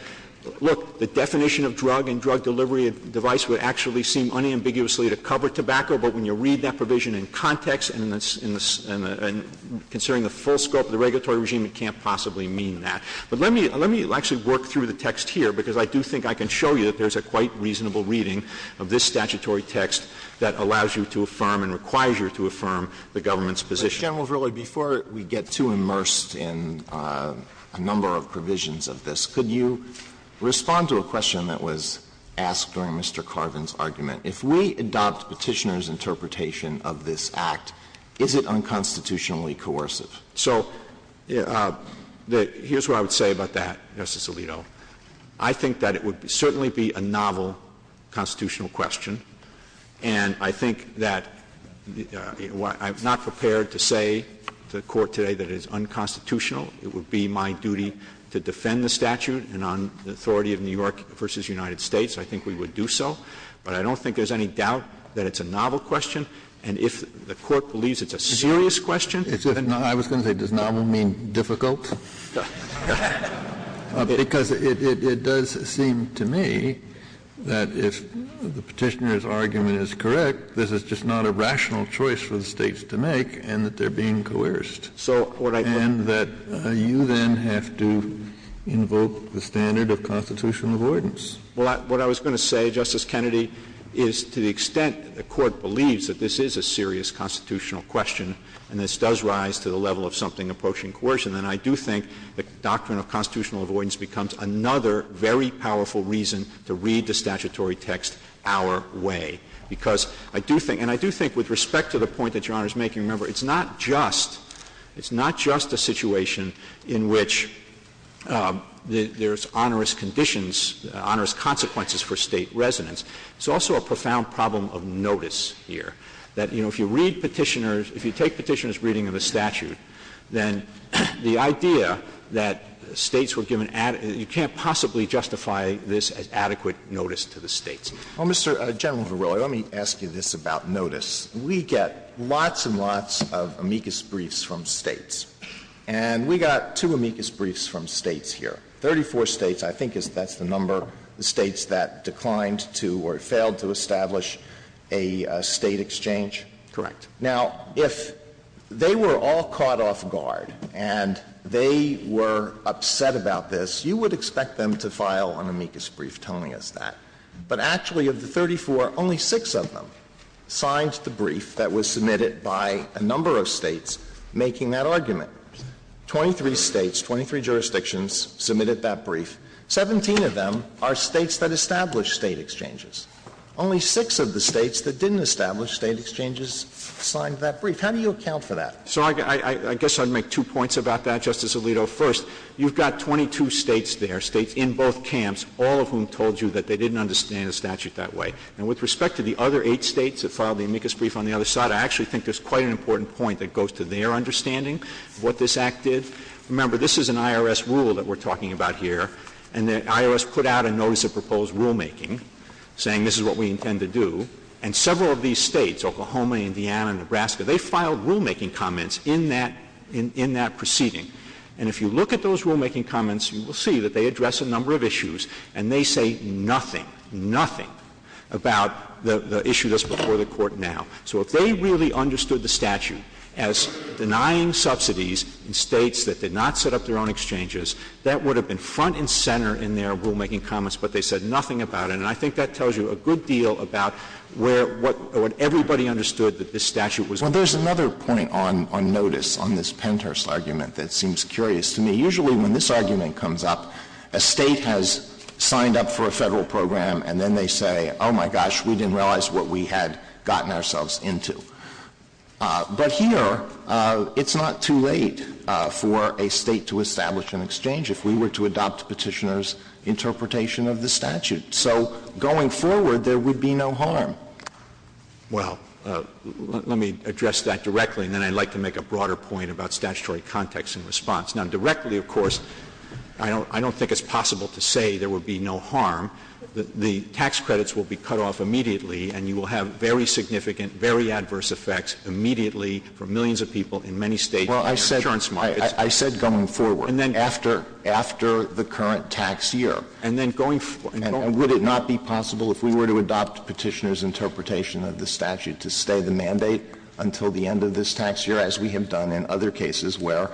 look, the definition of drug and drug delivery device would actually seem unambiguously to cover tobacco. But when you read that provision in context and it's in the, and considering the full scope of the regulatory regime, it can't possibly mean that. But let me, let me actually work through the text here because I do think I can show you that there's a quite reasonable reading of this statutory text that allows you to affirm and requires you to affirm the government's position. General Verrilli, before we get too immersed in a number of provisions of this, could you respond to a question that was asked during Mr. Carvin's argument? If we adopt petitioner's interpretation of this act, is it unconstitutionally coercive? So here's what I would say about that, Justice Alito. I think that it would certainly be a novel constitutional question. And I think that I'm not prepared to say to the court today that it is unconstitutional. It would be my duty to defend the statute and on the authority of New York versus United States. I think we would do so, but I don't think there's any doubt that it's a novel question. And if the court believes it's a serious question. I was going to say, does novel mean difficult? Because it does seem to me that if the petitioner's argument is correct, this is just not a rational choice for the states to make, and that they're being coerced. And that you then have to invoke the standard of constitutional avoidance. What I was going to say, Justice Kennedy, is to the extent the court believes that this is a serious constitutional question, and this does rise to the level of something approaching coercion, and I do think the doctrine of constitutional avoidance becomes another very powerful reason to read the statutory text our way. Because I do think, and I do think with respect to the point that Your Honor is making, remember it's not just, it's not just a situation in which there's onerous conditions, onerous consequences for state residents. It's also a profound problem of notice here. That, you know, if you read petitioners, if you take petitioners reading of the statute, then the idea that states were given, you can't possibly justify this as adequate notice to the states. Well, Mr. General Verrilli, let me ask you this about notice. We get lots and lots of amicus briefs from states. And we got two amicus briefs from states here. Thirty-four states, I think that's the number, the states that declined to or failed to establish a state exchange. Correct. Now, if they were all caught off guard and they were upset about this, you would expect them to file an amicus brief telling us that. But actually of the 34, only six of them signed the brief that was submitted by a number of states making that argument. Twenty-three states, 23 jurisdictions submitted that brief. Seventeen of them are states that established state exchanges. Only six of the states that didn't establish state exchanges signed that brief. How do you account for that? So I guess I'd make two points about that, Justice Alito. First, you've got 22 states there, states in both camps, all of whom told you that they didn't understand the statute that way. And with respect to the other eight states that filed the amicus brief on the other side, I actually think there's quite an important point that goes to their understanding of what this Act did. Remember, this is an IRS rule that we're talking about here. And the IRS put out a notice of proposed rulemaking saying this is what we intend to do. And several of these states, Oklahoma, Indiana, and Nebraska, they filed rulemaking comments in that proceeding. And if you look at those rulemaking comments, you will see that they address a number of issues. And they say nothing, nothing about the issue that's before the Court now. So if they really understood the statute as denying subsidies in states that did not set up their own exchanges, that would have been front and center in their rulemaking comments, but they said nothing about it. And I think that tells you a good deal about what everybody understood that this statute was denying. Well, there's another point on notice on this PENTERS argument that seems curious to me. Usually when this argument comes up, a state has signed up for a federal program, and then they say, oh, my gosh, we didn't realize what we had gotten ourselves into. But here, it's not too late for a state to establish an exchange. If we were to adopt the petitioner's interpretation of the statute. So going forward, there would be no harm. Well, let me address that directly, and then I'd like to make a broader point about statutory context and response. Now, directly, of course, I don't think it's possible to say there would be no harm. The tax credits will be cut off immediately, and you will have very significant, very adverse effects immediately for millions of people in many states. Well, I said going forward. And then after the current tax year. And then going forward. And would it not be possible if we were to adopt the petitioner's interpretation of the statute to stay the mandate until the end of this tax year, as we have done in other cases where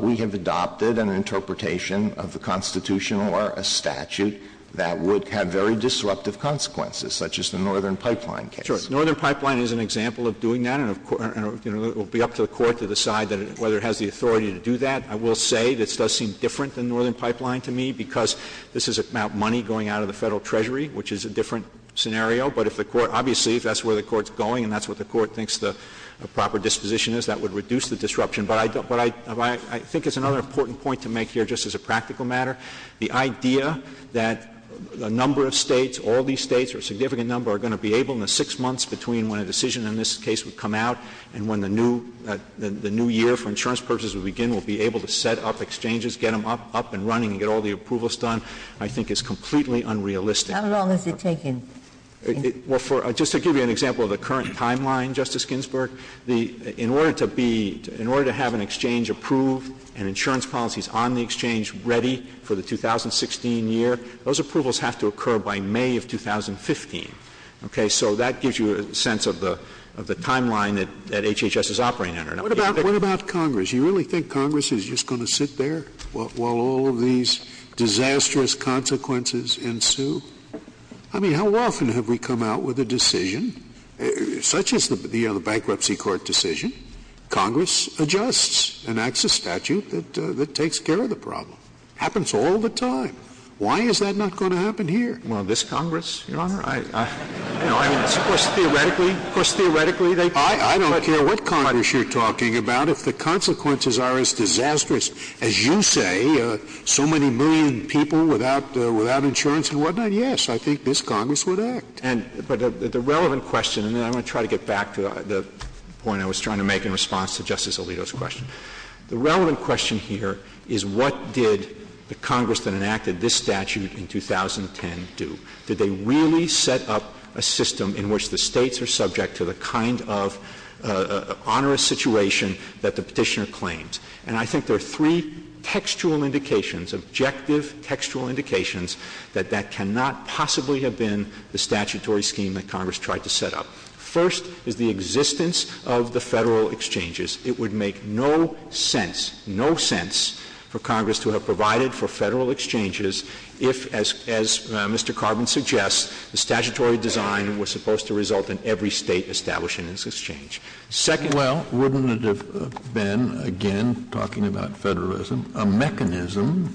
we have adopted an interpretation of the Constitution or a statute that would have very disruptive consequences, such as the Northern Pipeline case? Sure. The Northern Pipeline is an example of doing that, and it will be up to the court to decide whether it has the authority to do that. I will say this does seem different than Northern Pipeline to me because this is about money going out of the federal treasury, which is a different scenario. But obviously if that's where the court's going and that's what the court thinks the proper disposition is, that would reduce the disruption. But I think it's another important point to make here, just as a practical matter, the idea that a number of states, all these states, or a significant number, are going to be able in the six months between when a decision in this case would come out and when the new year for insurance purposes would begin, will be able to set up exchanges, get them up and running, get all the approvals done, I think is completely unrealistic. How long is it taking? Just to give you an example of the current timeline, Justice Ginsburg, in order to have an exchange approved and insurance policies on the exchange ready for the 2016 year, those approvals have to occur by May of 2015. So that gives you a sense of the timeline that HHS is operating under. What about Congress? Do you really think Congress is just going to sit there while all these disastrous consequences ensue? I mean, how often have we come out with a decision, such as the bankruptcy court decision, Congress adjusts and acts a statute that takes care of the problem. It happens all the time. Why is that not going to happen here? Well, this Congress, Your Honor, I don't care what Congress you're talking about. If the consequences are as disastrous as you say, so many million people without insurance and whatnot, yes, I think this Congress would act. But the relevant question, and I'm going to try to get back to the point I was trying to make in response to Justice Alito's question, the relevant question here is what did the Congress that enacted this statute in 2010 do? Did they really set up a system in which the States are subject to the kind of onerous situation that the Petitioner claims? And I think there are three textual indications, objective textual indications, that that cannot possibly have been the statutory scheme that Congress tried to set up. First is the existence of the federal exchanges. It would make no sense, no sense, for Congress to have provided for federal exchanges if, as Mr. Carvin suggests, the statutory design was supposed to result in every State establishing its exchange. Second, well, wouldn't it have been, again, talking about federalism, a mechanism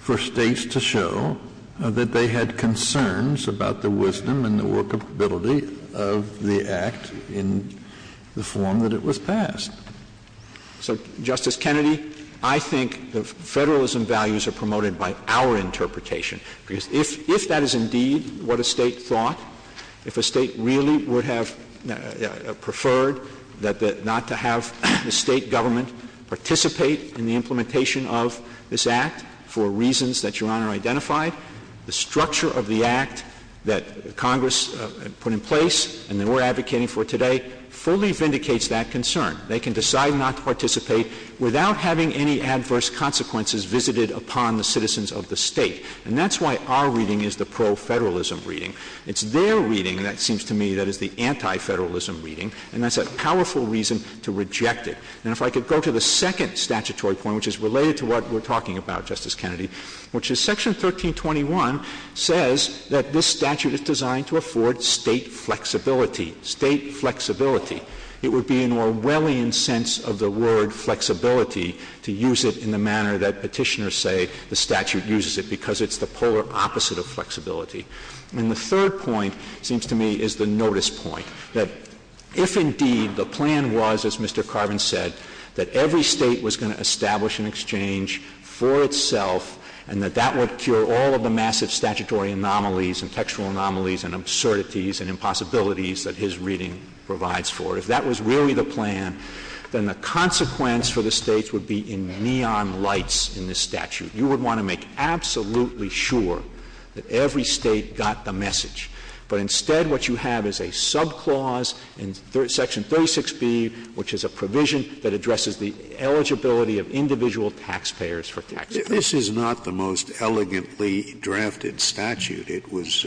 for States to show that they had concerns about the wisdom and the workability of the Act in the form that it was passed? So, Justice Kennedy, I think the federalism values are promoted by our interpretation. If that is indeed what a State thought, if a State really would have preferred not to have the State government participate in the implementation of this Act for reasons that Your Honor identified, the structure of the Act that Congress put in place and that we're advocating for today fully vindicates that concern. They can decide not to participate without having any adverse consequences visited upon the citizens of the State. And that's why our reading is the pro-federalism reading. It's their reading, and it seems to me, that is the anti-federalism reading. And that's a powerful reason to reject it. And if I could go to the second statutory point, which is related to what we're talking about, Justice Kennedy, which is Section 1321 says that this statute is designed to afford State flexibility. State flexibility. It would be an Orwellian sense of the word flexibility to use it in the manner that petitioners say the statute uses it because it's the polar opposite of flexibility. And the third point, it seems to me, is the notice point, that if indeed the plan was, as Mr. Carvin said, that every State was going to establish an exchange for itself and that that would cure all of the massive statutory anomalies and textual anomalies and absurdities and impossibilities that his reading provides for, if that was really the plan, then the consequence for the States would be in neon lights in this statute. You would want to make absolutely sure that every State got the message. But instead what you have is a subclause in Section 36B, which is a provision that addresses the eligibility of individual taxpayers for taxpayers. This is not the most elegantly drafted statute. It was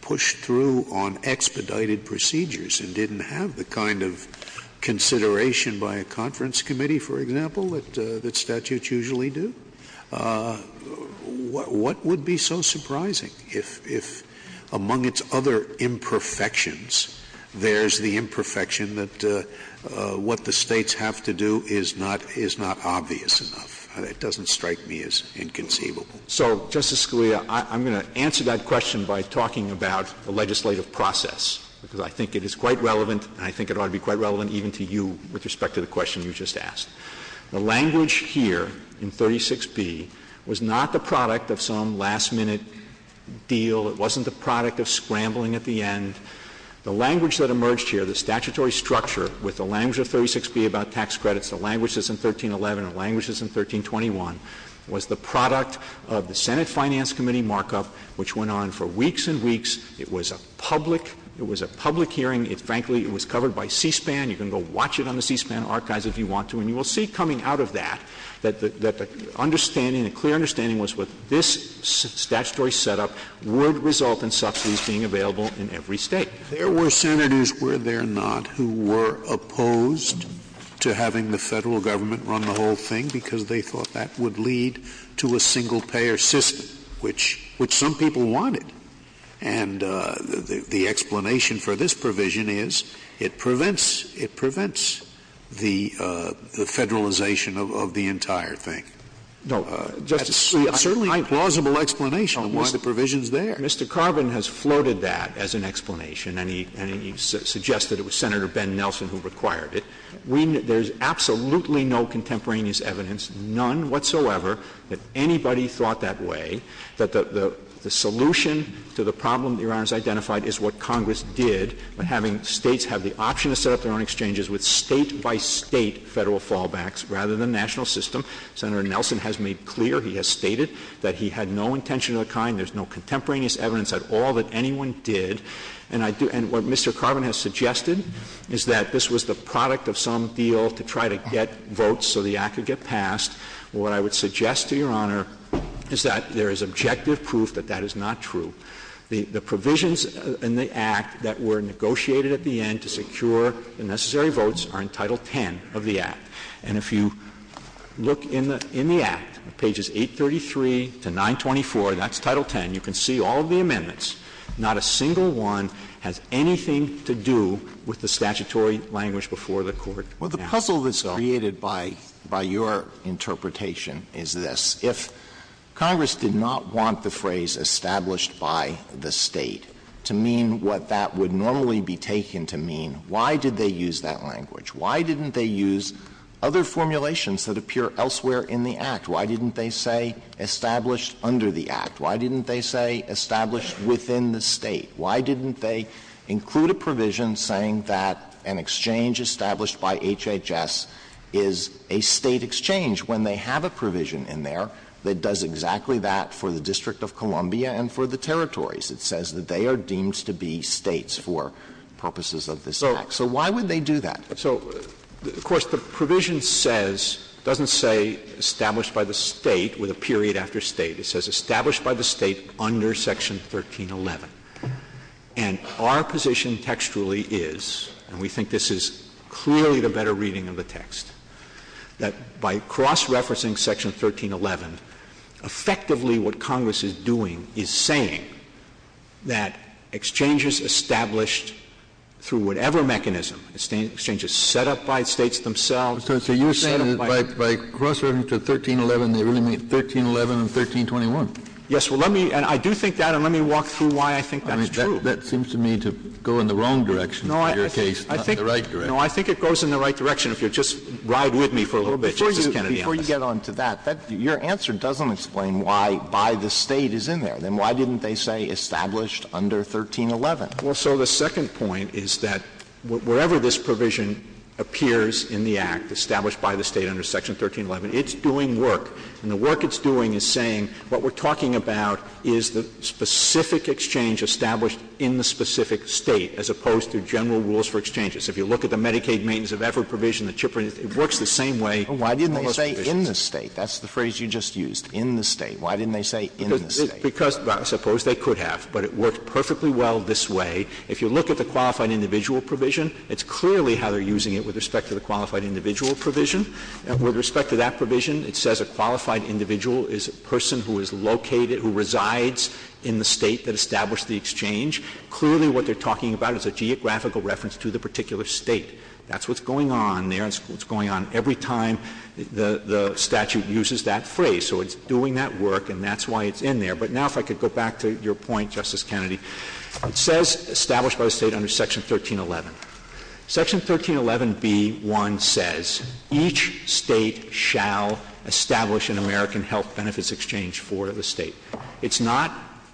pushed through on expedited procedures and didn't have the kind of consideration by a conference committee, for example, that statutes usually do. What would be so surprising if, among its other imperfections, there's the imperfection that what the States have to do is not obvious enough? It doesn't strike me as inconceivable. So, Justice Scalia, I'm going to answer that question by talking about the legislative process, because I think it is quite relevant, and I think it ought to be quite relevant even to you with respect to the question you just asked. The language here in 36B was not the product of some last-minute deal. It wasn't the product of scrambling at the end. The language that emerged here, the statutory structure, with the language of 36B about tax credits, the language that's in 1311, the language that's in 1321, was the product of the Senate Finance Committee markup, which went on for weeks and weeks. It was a public hearing. Frankly, it was covered by C-SPAN. You can go watch it on the C-SPAN archives if you want to, and you will see coming out of that that the understanding, the clear understanding was that this statutory setup would result in subsidies being available in every State. There were Senators, were there not, who were opposed to having the federal government run the whole thing because they thought that would lead to a single-payer system, which some people wanted. And the explanation for this provision is it prevents the federalization of the entire thing. No, Justice Scalia, I... That's certainly a plausible explanation of why the provision's there. Mr. Carvin has floated that as an explanation, and he suggests that it was Senator Ben Nelson who required it. There's absolutely no contemporaneous evidence, none whatsoever, that anybody thought that way, that the solution to the problem Your Honor has identified is what Congress did in having States have the option to set up their own exchanges with State-by-State federal fallbacks rather than national system. Senator Nelson has made clear, he has stated, that he had no intention of the kind, there's no contemporaneous evidence at all that anyone did. And what Mr. Carvin has suggested is that this was the product of some deal to try to get votes so the Act would get passed. What I would suggest to Your Honor is that there is objective proof that that is not true. The provisions in the Act that were negotiated at the end to secure the necessary votes are in Title X of the Act. And if you look in the Act, pages 833 to 924, that's Title X. You can see all of the amendments. Not a single one has anything to do with the statutory language before the Court. The puzzle that's created by your interpretation is this. If Congress did not want the phrase established by the State to mean what that would normally be taken to mean, why did they use that language? Why didn't they use other formulations that appear elsewhere in the Act? Why didn't they say established under the Act? Why didn't they say established within the State? Why didn't they include a provision saying that an exchange established by HHS is a State exchange when they have a provision in there that does exactly that for the District of Columbia and for the territories? It says that they are deemed to be States for purposes of this Act. So why would they do that? Of course, the provision doesn't say established by the State with a period after State. It says established by the State under Section 1311. And our position textually is, and we think this is clearly the better reading of the text, that by cross-referencing Section 1311, effectively what Congress is doing is saying that exchanges established through whatever mechanism, exchanges set up by States themselves— So you're saying that by cross-referencing 1311, they really mean 1311 and 1321. Yes, and I do think that, and let me walk through why I think that's true. That seems to me to go in the wrong direction in your case, not in the right direction. No, I think it goes in the right direction, if you'll just ride with me for a little bit, Justice Kennedy. Before you get on to that, your answer doesn't explain why by the State is in there. Then why didn't they say established under 1311? Well, so the second point is that wherever this provision appears in the Act established by the State under Section 1311, it's doing work. And the work it's doing is saying what we're talking about is the specific exchange established in the specific State as opposed to general rules for exchanges. If you look at the Medicaid maintenance of effort provision, it works the same way. Why didn't they say in the State? That's the phrase you just used, in the State. Why didn't they say in the State? Because, suppose they could have, but it worked perfectly well this way. If you look at the qualified individual provision, it's clearly how they're using it with respect to the qualified individual provision. With respect to that provision, it says a qualified individual is a person who is located, who resides in the State that established the exchange. Clearly what they're talking about is a geographical reference to the particular State. That's what's going on there, and it's going on every time the statute uses that phrase. So it's doing that work, and that's why it's in there. But now if I could go back to your point, Justice Kennedy. It says established by the State under Section 1311. Section 1311b1 says each State shall establish an American health benefits exchange for the State. It's not,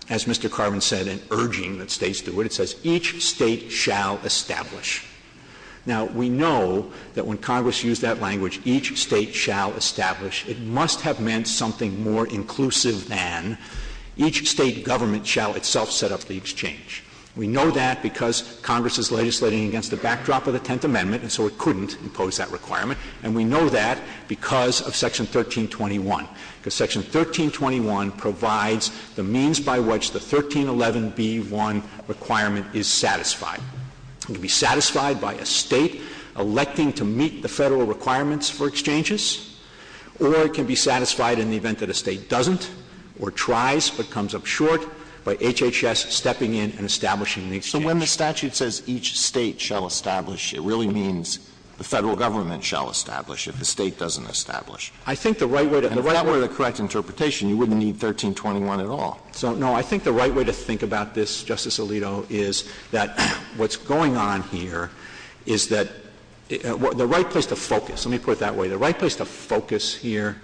as Mr. Carvin said, an urging that States do it. It says each State shall establish. Now, we know that when Congress used that language, each State shall establish, it must have meant something more inclusive than each State government shall itself set up the exchange. We know that because Congress is legislating against the backdrop of the Tenth Amendment, and so it couldn't impose that requirement. And we know that because of Section 1321. Because Section 1321 provides the means by which the 1311b1 requirement is satisfied. It can be satisfied by a State electing to meet the Federal requirements for exchanges, or it can be satisfied in the event that a State doesn't or tries but comes up short by HHS stepping in and establishing the exchange. So when the statute says each State shall establish, it really means the Federal government shall establish if the State doesn't establish. I think the right way to think about this, Justice Alito, is that what's going on here is that the right place to focus, let me put it that way, the right place to focus here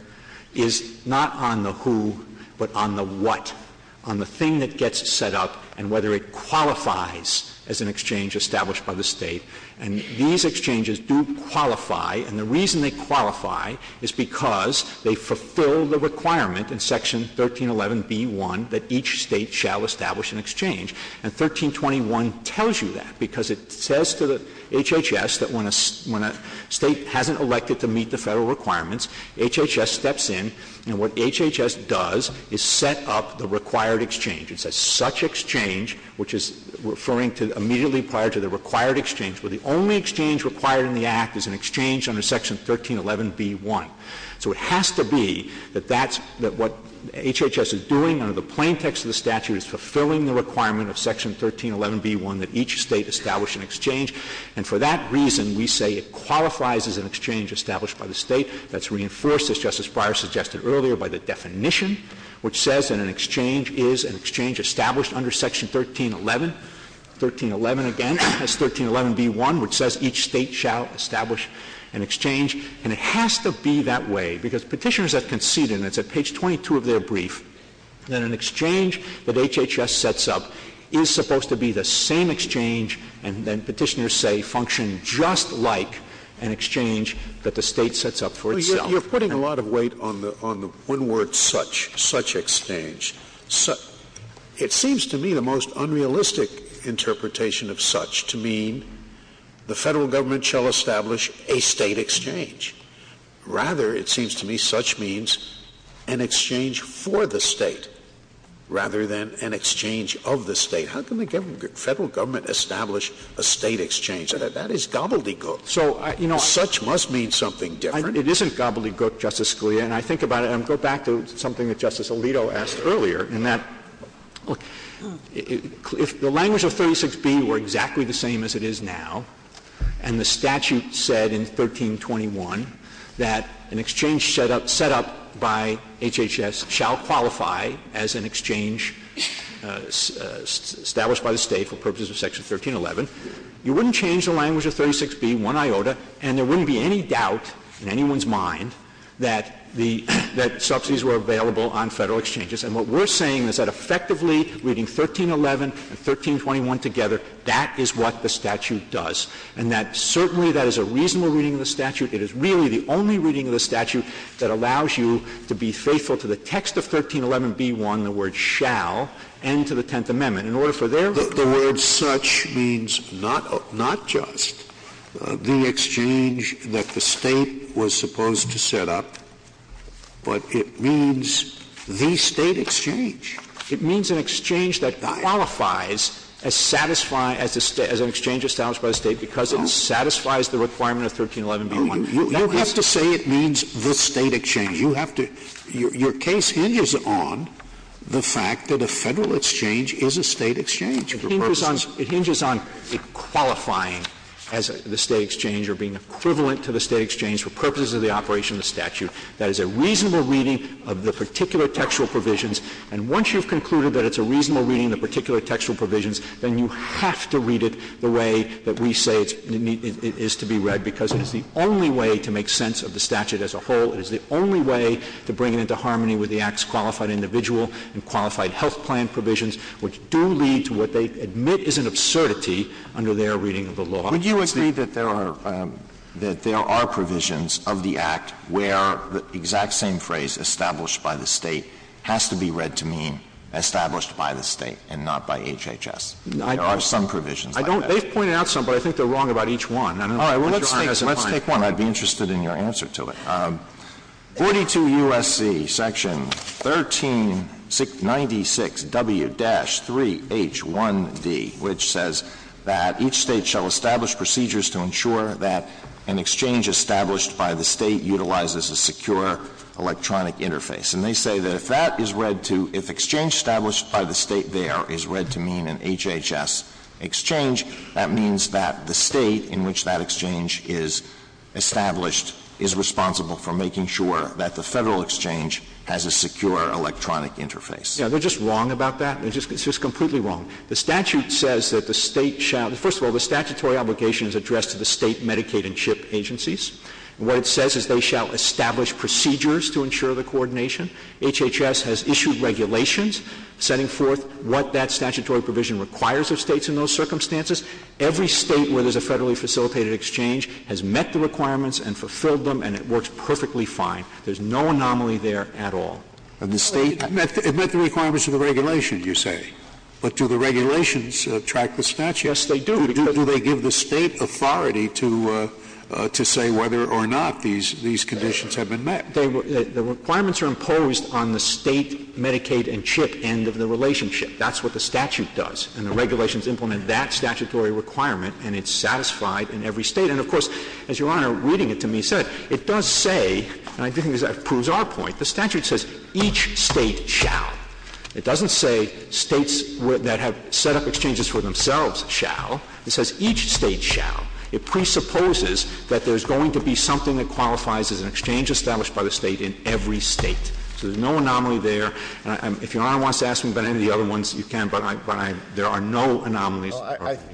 is not on the who but on the what, on the thing that gets set up and whether it qualifies as an exchange established by the State. And these exchanges do qualify, and the reason they qualify is because they fulfill the requirement in Section 1311b1 that each State shall establish an exchange. And 1321 tells you that because it says to the HHS that when a State hasn't elected to meet the Federal requirements, HHS steps in, and what HHS does is set up the required exchange. It says such exchange, which is referring to immediately prior to the required exchange, where the only exchange required in the Act is an exchange under Section 1311b1. So it has to be that that's what HHS is doing under the plaintext of the statute is fulfilling the requirement of Section 1311b1 that each State establish an exchange. And for that reason, we say it qualifies as an exchange established by the State. That's reinforced, as Justice Breyer suggested earlier, by the definition, which says that an exchange is an exchange established under Section 1311. 1311, again, has 1311b1, which says each State shall establish an exchange. And it has to be that way because petitioners have conceded, and it's at page 22 of their brief, that an exchange that HHS sets up is supposed to be the same exchange, and then petitioners say function just like an exchange that the State sets up for itself. You're putting a lot of weight on one word, such, such exchange. It seems to me the most unrealistic interpretation of such to mean the Federal Government shall establish a State exchange. Rather, it seems to me such means an exchange for the State rather than an exchange of the State. How can the Federal Government establish a State exchange? That is gobbledygook. So such must mean something different. It isn't gobbledygook, Justice Scalia. And I think about it, and I'll go back to something that Justice Alito asked earlier, in that if the language of 36b were exactly the same as it is now, and the statute said in 1321 that an exchange set up by HHS shall qualify as an exchange established by the State for purposes of Section 1311, you wouldn't change the language of 36b, and there wouldn't be any doubt in anyone's mind that subsidies were available on Federal exchanges. And what we're saying is that effectively reading 1311 and 1321 together, that is what the statute does. And that certainly that is a reasonable reading of the statute. It is really the only reading of the statute that allows you to be faithful to the text of 1311b1, the word shall, and to the Tenth Amendment. The word such means not just the exchange that the State was supposed to set up, but it means the State exchange. It means an exchange that qualifies as an exchange established by the State because it satisfies the requirement of 1311b1. You have to say it means the State exchange. Your case hinges on the fact that a Federal exchange is a State exchange. It hinges on it qualifying as the State exchange or being equivalent to the State exchange for purposes of the operation of the statute. That is a reasonable reading of the particular textual provisions, and once you've concluded that it's a reasonable reading of the particular textual provisions, then you have to read it the way that we say it is to be read because it's the only way to make sense of the statute as a whole. It's the only way to bring it into harmony with the Act's qualified individual and qualified health plan provisions, which do lead to what they admit is an absurdity under their reading of the law. Would you agree that there are provisions of the Act where the exact same phrase, established by the State, has to be read to mean established by the State and not by HHS? There are some provisions like that. They've pointed out some, but I think they're wrong about each one. All right. Let's take one. And I'd be interested in your answer to it. 42 U.S.C., Section 1396 W-3H1D, which says that each State shall establish procedures to ensure that an exchange established by the State utilizes a secure electronic interface. And they say that if that is read to, if exchange established by the State there is read to mean an HHS exchange, that means that the State in which that exchange is established is responsible for making sure that the Federal exchange has a secure electronic interface. Yeah, they're just wrong about that. It's just completely wrong. The statute says that the State shall, first of all, the statutory obligation is addressed to the State Medicaid and CHIP agencies. What it says is they shall establish procedures to ensure the coordination. HHS has issued regulations setting forth what that statutory provision requires of States in those circumstances. Every State where there's a federally facilitated exchange has met the requirements and fulfilled them, and it works perfectly fine. There's no anomaly there at all. It met the requirements of the regulation, you say. But do the regulations track the statute? Yes, they do. Do they give the State authority to say whether or not these conditions have been met? The requirements are imposed on the State Medicaid and CHIP end of the relationship. That's what the statute does, and the regulations implement that statutory requirement, and it's satisfied in every State. And of course, as Your Honor, reading it to me said, it does say, and I do think that proves our point, the statute says each State shall. It doesn't say States that have set up exchanges for themselves shall. It says each State shall. It presupposes that there's going to be something that qualifies as an exchange established by the State in every State. So there's no anomaly there. If Your Honor wants to ask me about any of the other ones, you can, but there are no anomalies,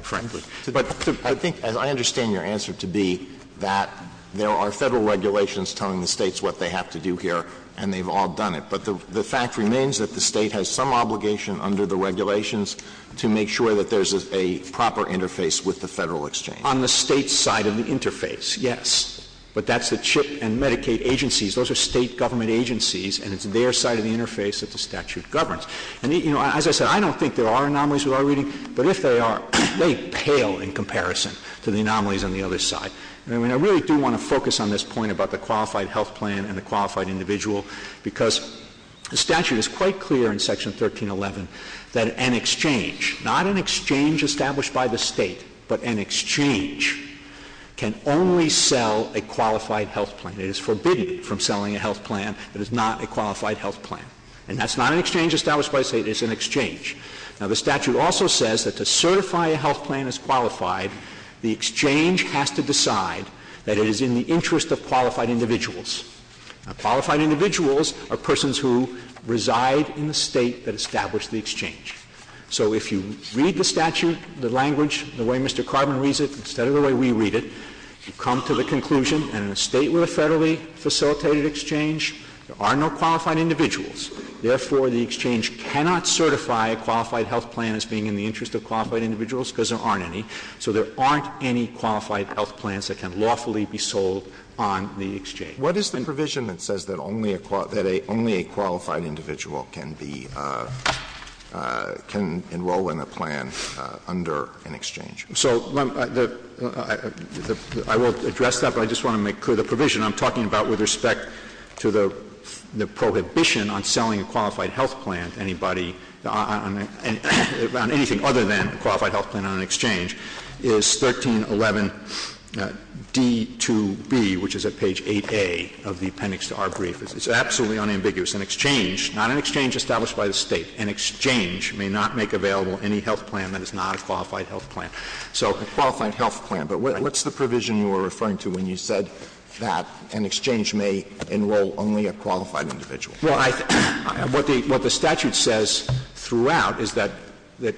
frankly. But I think, and I understand your answer to be that there are Federal regulations telling the States what they have to do here, and they've all done it. But the fact remains that the State has some obligation under the regulations to make sure that there's a proper interface with the Federal exchange. On the State's side of the interface, yes. But that's the CHIP and Medicaid agencies. Those are State government agencies, and it's their side of the interface that the statute governs. And as I said, I don't think there are anomalies with our reading, but if there are, they pale in comparison to the anomalies on the other side. And I really do want to focus on this point about the qualified health plan and the qualified individual, because the statute is quite clear in Section 1311 that an exchange, not an exchange established by the State, but an exchange can only sell a qualified health plan. It is forbidden from selling a health plan that is not a qualified health plan. And that's not an exchange established by the State. It's an exchange. Now, the statute also says that to certify a health plan as qualified, the exchange has to decide that it is in the interest of qualified individuals. Now, qualified individuals are persons who reside in the State that established the exchange. So if you read the statute, the language, the way Mr. Carvin reads it, instead of the way we read it, you come to the conclusion in the State with a federally facilitated exchange, there are no qualified individuals. Therefore, the exchange cannot certify a qualified health plan as being in the interest of qualified individuals because there aren't any. So there aren't any qualified health plans that can lawfully be sold on the exchange. What is the provision that says that only a qualified individual can enroll in a plan under an exchange? So I will address that, but I just want to make clear the provision I'm talking about with respect to the prohibition on selling a qualified health plan to anybody on anything other than a qualified health plan on an exchange is 1311D-2B, which is at page 8A of the appendix to our brief. It's absolutely unambiguous. An exchange, not an exchange established by the State, an exchange may not make available any health plan that is not a qualified health plan. So a qualified health plan, but what's the provision you were referring to when you said that an exchange may enroll only a qualified individual? Well, what the statute says throughout is that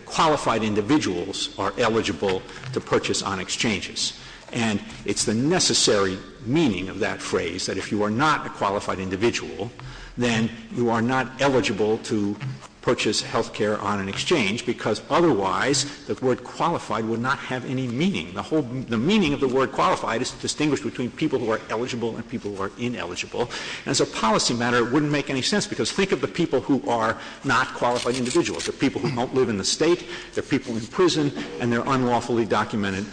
qualified individuals are eligible to purchase on exchanges, and it's the necessary meaning of that phrase that if you are not a qualified individual, then you are not eligible to purchase health care on an exchange because otherwise the word qualified would not have any meaning. The meaning of the word qualified is distinguished between people who are eligible and people who are ineligible, and as a policy matter it wouldn't make any sense because think of the people who are not qualified individuals, the people who don't live in the State, the people in prison, and they're unlawfully documented.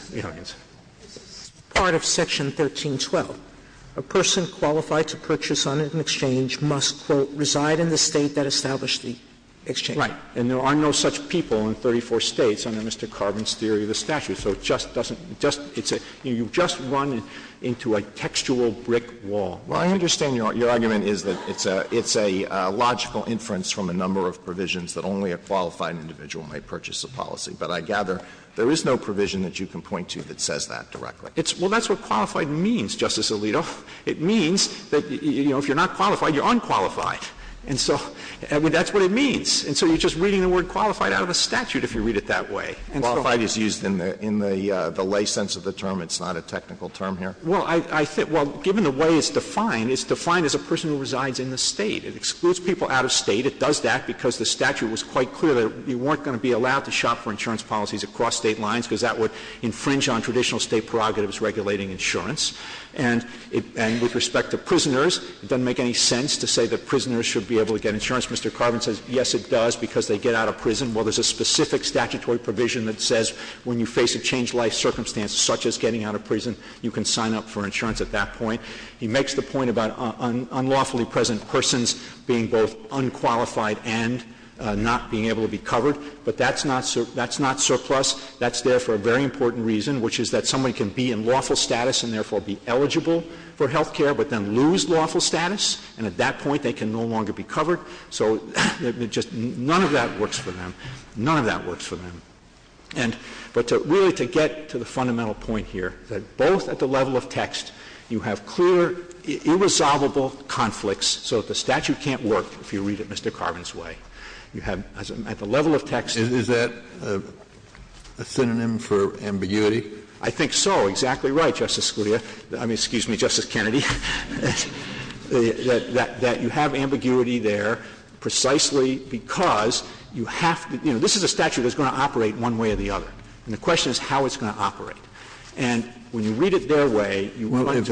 Part of Section 1312, a person qualified to purchase on an exchange must, quote, reside in the State that established the exchange. Right. And there are no such people in 34 States under Mr. Carvin's theory of the statute, so it just doesn't, you've just run into a textual brick wall. Well, I understand your argument is that it's a logical inference from a number of provisions that only a qualified individual may purchase a policy, but I gather there is no provision that you can point to that says that directly. Well, that's what qualified means, Justice Alito. It means that, you know, if you're not qualified, you're unqualified. And so that's what it means. And so you're just reading the word qualified out of a statute if you read it that way. Qualified is used in the lay sense of the term. It's not a technical term here. Well, given the way it's defined, it's defined as a person who resides in the State. It excludes people out of State. It does that because the statute was quite clear that you weren't going to be allowed to shop for insurance policies across State lines because that would infringe on traditional State prerogatives regulating insurance. And with respect to prisoners, it doesn't make any sense to say that prisoners should be able to get insurance. Mr. Carvin says, yes, it does, because they get out of prison. Well, there's a specific statutory provision that says when you face a changed-life circumstance such as getting out of prison, you can sign up for insurance at that point. He makes the point about unlawfully present persons being both unqualified and not being able to be covered. But that's not surplus. That's there for a very important reason, which is that somebody can be in lawful status and therefore be eligible for health care but then lose lawful status, and at that point they can no longer be covered. So none of that works for them. None of that works for them. But really to get to the fundamental point here, that both at the level of text you have clear, irresolvable conflicts so that the statute can't work if you read it Mr. Carvin's way. You have at the level of text. Is that a synonym for ambiguity? I think so. Exactly right, Justice Scalia. I mean, excuse me, Justice Kennedy. That you have ambiguity there precisely because you have to – this is a statute that's going to operate one way or the other. And the question is how it's going to operate. And when you read it their way – Well, if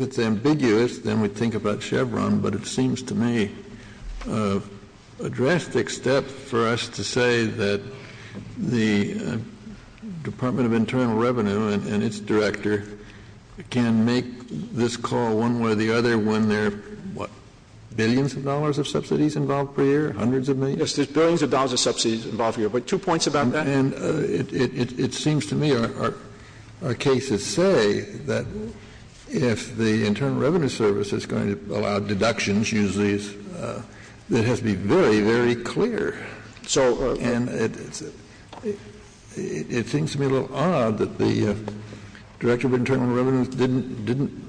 it's ambiguous, then we think about Chevron. But it seems to me a drastic step for us to say that the Department of Internal Revenue and its director can make this call one way or the other when there are billions of dollars of subsidies involved per year, hundreds of millions. Yes, there's billions of dollars of subsidies involved per year. But two points about that. And it seems to me our cases say that if the Internal Revenue Service is going to allow deductions, usually it has to be very, very clear. And it seems to me a little odd that the Director of Internal Revenue didn't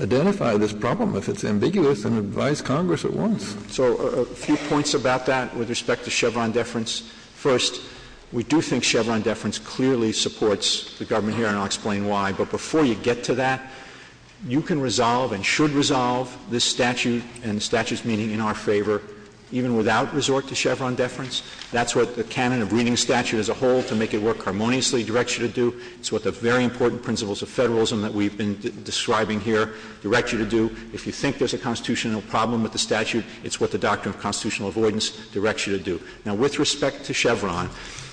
identify this problem if it's ambiguous and advised Congress it wasn't. So a few points about that with respect to Chevron deference. First, we do think Chevron deference clearly supports the government here, and I'll explain why. But before you get to that, you can resolve and should resolve this statute and the statute's meaning in our favor even without resort to Chevron deference. That's what the canon of reading statute as a whole to make it work harmoniously directs you to do. It's what the very important principles of federalism that we've been describing here direct you to do. If you think there's a constitutional problem with the statute, it's what the Doctrine of Constitutional Avoidance directs you to do. Now, with respect to Chevron,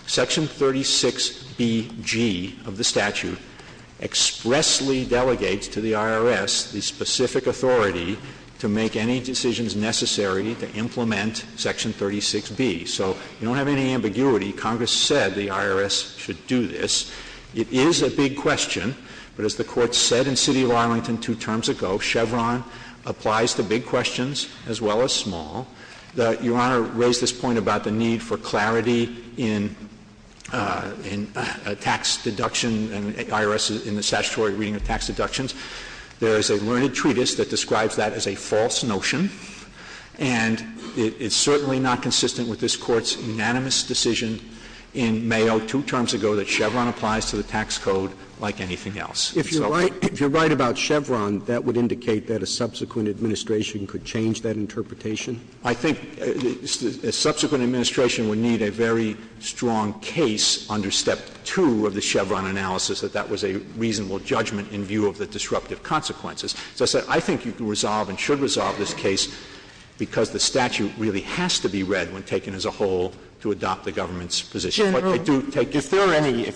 Section 36BG of the statute expressly delegates to the IRS the specific authority to make any decisions necessary to implement Section 36B. So you don't have any ambiguity. Congress said the IRS should do this. It is a big question. But as the Court said in City of Arlington two terms ago, Chevron applies to big questions as well as small. Your Honor raised this point about the need for clarity in a tax deduction and IRS in the statutory reading of tax deductions. There is a learned treatise that describes that as a false notion, and it's certainly not consistent with this Court's unanimous decision in Mayo two terms ago that Chevron applies to the tax code like anything else. If you're right about Chevron, that would indicate that a subsequent administration could change that interpretation? I think a subsequent administration would need a very strong case under Step 2 of the Chevron analysis that that was a reasonable judgment in view of the disruptive consequences. So I said I think you can resolve and should resolve this case because the statute really has to be read when taken as a whole to adopt the government's position. If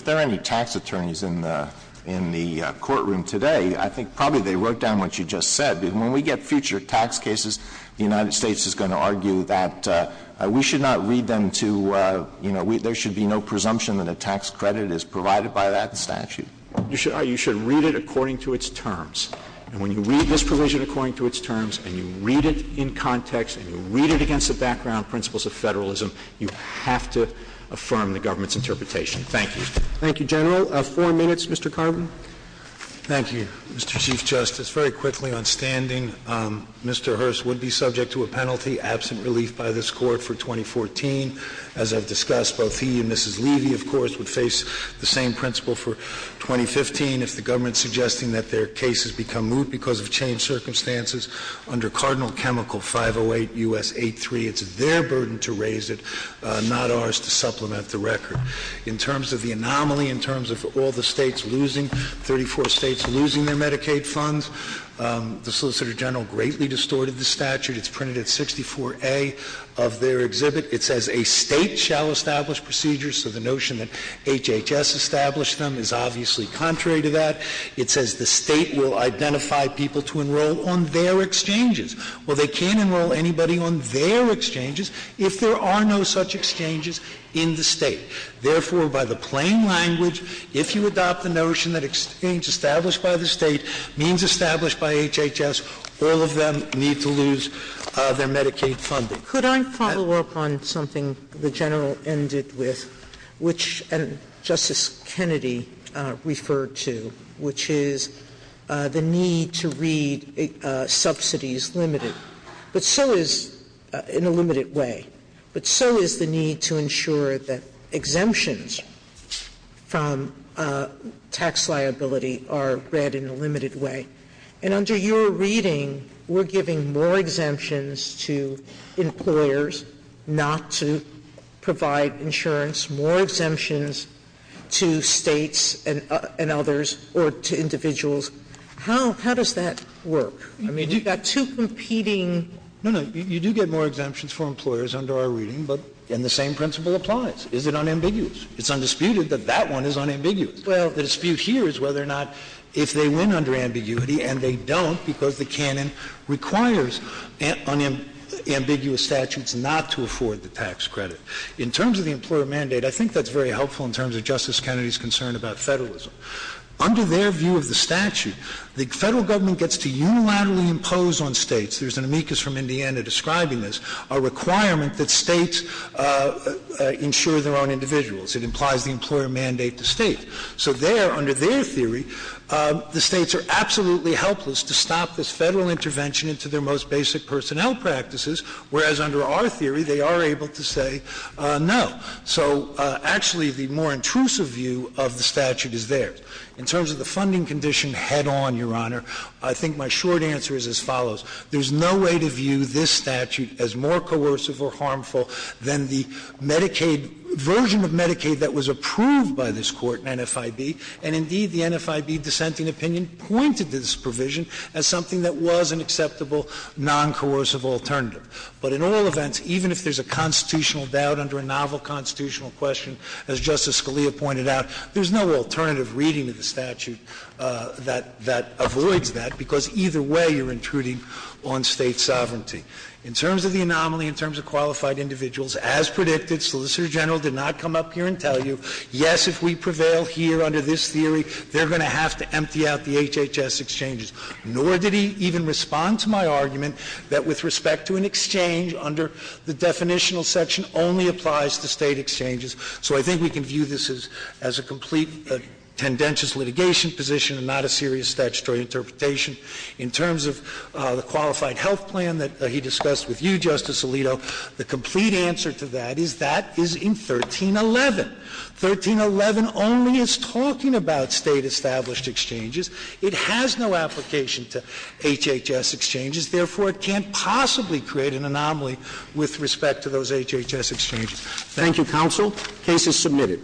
there are any tax attorneys in the courtroom today, I think probably they wrote down what you just said. When we get future tax cases, the United States is going to argue that we should not read them to, you know, there should be no presumption that a tax credit is provided by that statute. You should read it according to its terms. And when you read this provision according to its terms and you read it in context and you read it against the background principles of federalism, you have to affirm the government's interpretation. Thank you. Thank you, General. Four minutes, Mr. Carvin. Thank you, Mr. Chief Justice. Very quickly on standing, Mr. Hearst would be subject to a penalty, absent relief by this Court for 2014. As I've discussed, both he and Mrs. Levy, of course, would face the same principle for 2015. If the government is suggesting that their case has become moot because of changed circumstances, under Cardinal Chemical 508 U.S. 8.3, it's their burden to raise it, not ours to supplement the record. In terms of the anomaly, in terms of all the states losing, 34 states losing their Medicaid funds, the Solicitor General greatly distorted the statute. It's printed at 64A of their exhibit. It says a state shall establish procedures, so the notion that HHS established them is obviously contrary to that. It says the state will identify people to enroll on their exchanges. Well, they can't enroll anybody on their exchanges if there are no such exchanges in the state. Therefore, by the plain language, if you adopt the notion that exchange established by the state means established by HHS, all of them need to lose their Medicaid funding. Could I follow up on something the General ended with, which Justice Kennedy referred to, which is the need to read subsidies limited, but so is in a limited way, but so is the need to ensure that exemptions from tax liability are read in a limited way. And under your reading, we're giving more exemptions to employers not to provide insurance, more exemptions to states and others or to individuals. How does that work? I mean, you've got two competing... No, no, you do get more exemptions for employers under our reading, and the same principle applies. Is it unambiguous? It's undisputed that that one is unambiguous. Well, the dispute here is whether or not if they win under ambiguity, and they don't because the canon requires unambiguous statutes not to afford the tax credit. In terms of the employer mandate, I think that's very helpful in terms of Justice Kennedy's concern about federalism. Under their view of the statute, the federal government gets to unilaterally impose on states, there's an amicus from Indiana describing this, a requirement that states insure their own individuals. It implies the employer mandate the state. So there, under their theory, the states are absolutely helpless to stop this federal intervention into their most basic personnel practices, whereas under our theory, they are able to say no. So actually, the more intrusive view of the statute is there. In terms of the funding condition head-on, Your Honor, I think my short answer is as follows. There's no way to view this statute as more coercive or harmful than the version of Medicaid that was approved by this court, NFIB. And indeed, the NFIB dissenting opinion pointed to this provision as something that was an acceptable, non-coercive alternative. But in all events, even if there's a constitutional doubt under a novel constitutional question, as Justice Scalia pointed out, there's no alternative reading of the statute that avoids that because either way you're intruding on state sovereignty. In terms of the anomaly, in terms of qualified individuals, as predicted, Solicitor General did not come up here and tell you, yes, if we prevail here under this theory, they're going to have to empty out the HHS exchanges. Nor did he even respond to my argument that with respect to an exchange under the definitional section only applies to state exchanges. So I think we can view this as a complete and tendentious litigation position and not a serious statutory interpretation. In terms of the qualified health plan that he discussed with you, Justice Alito, the complete answer to that is that is in 1311. 1311 only is talking about state-established exchanges. It has no application to HHS exchanges. Therefore, it can't possibly create an anomaly with respect to those HHS exchanges. Thank you, counsel. Case is submitted.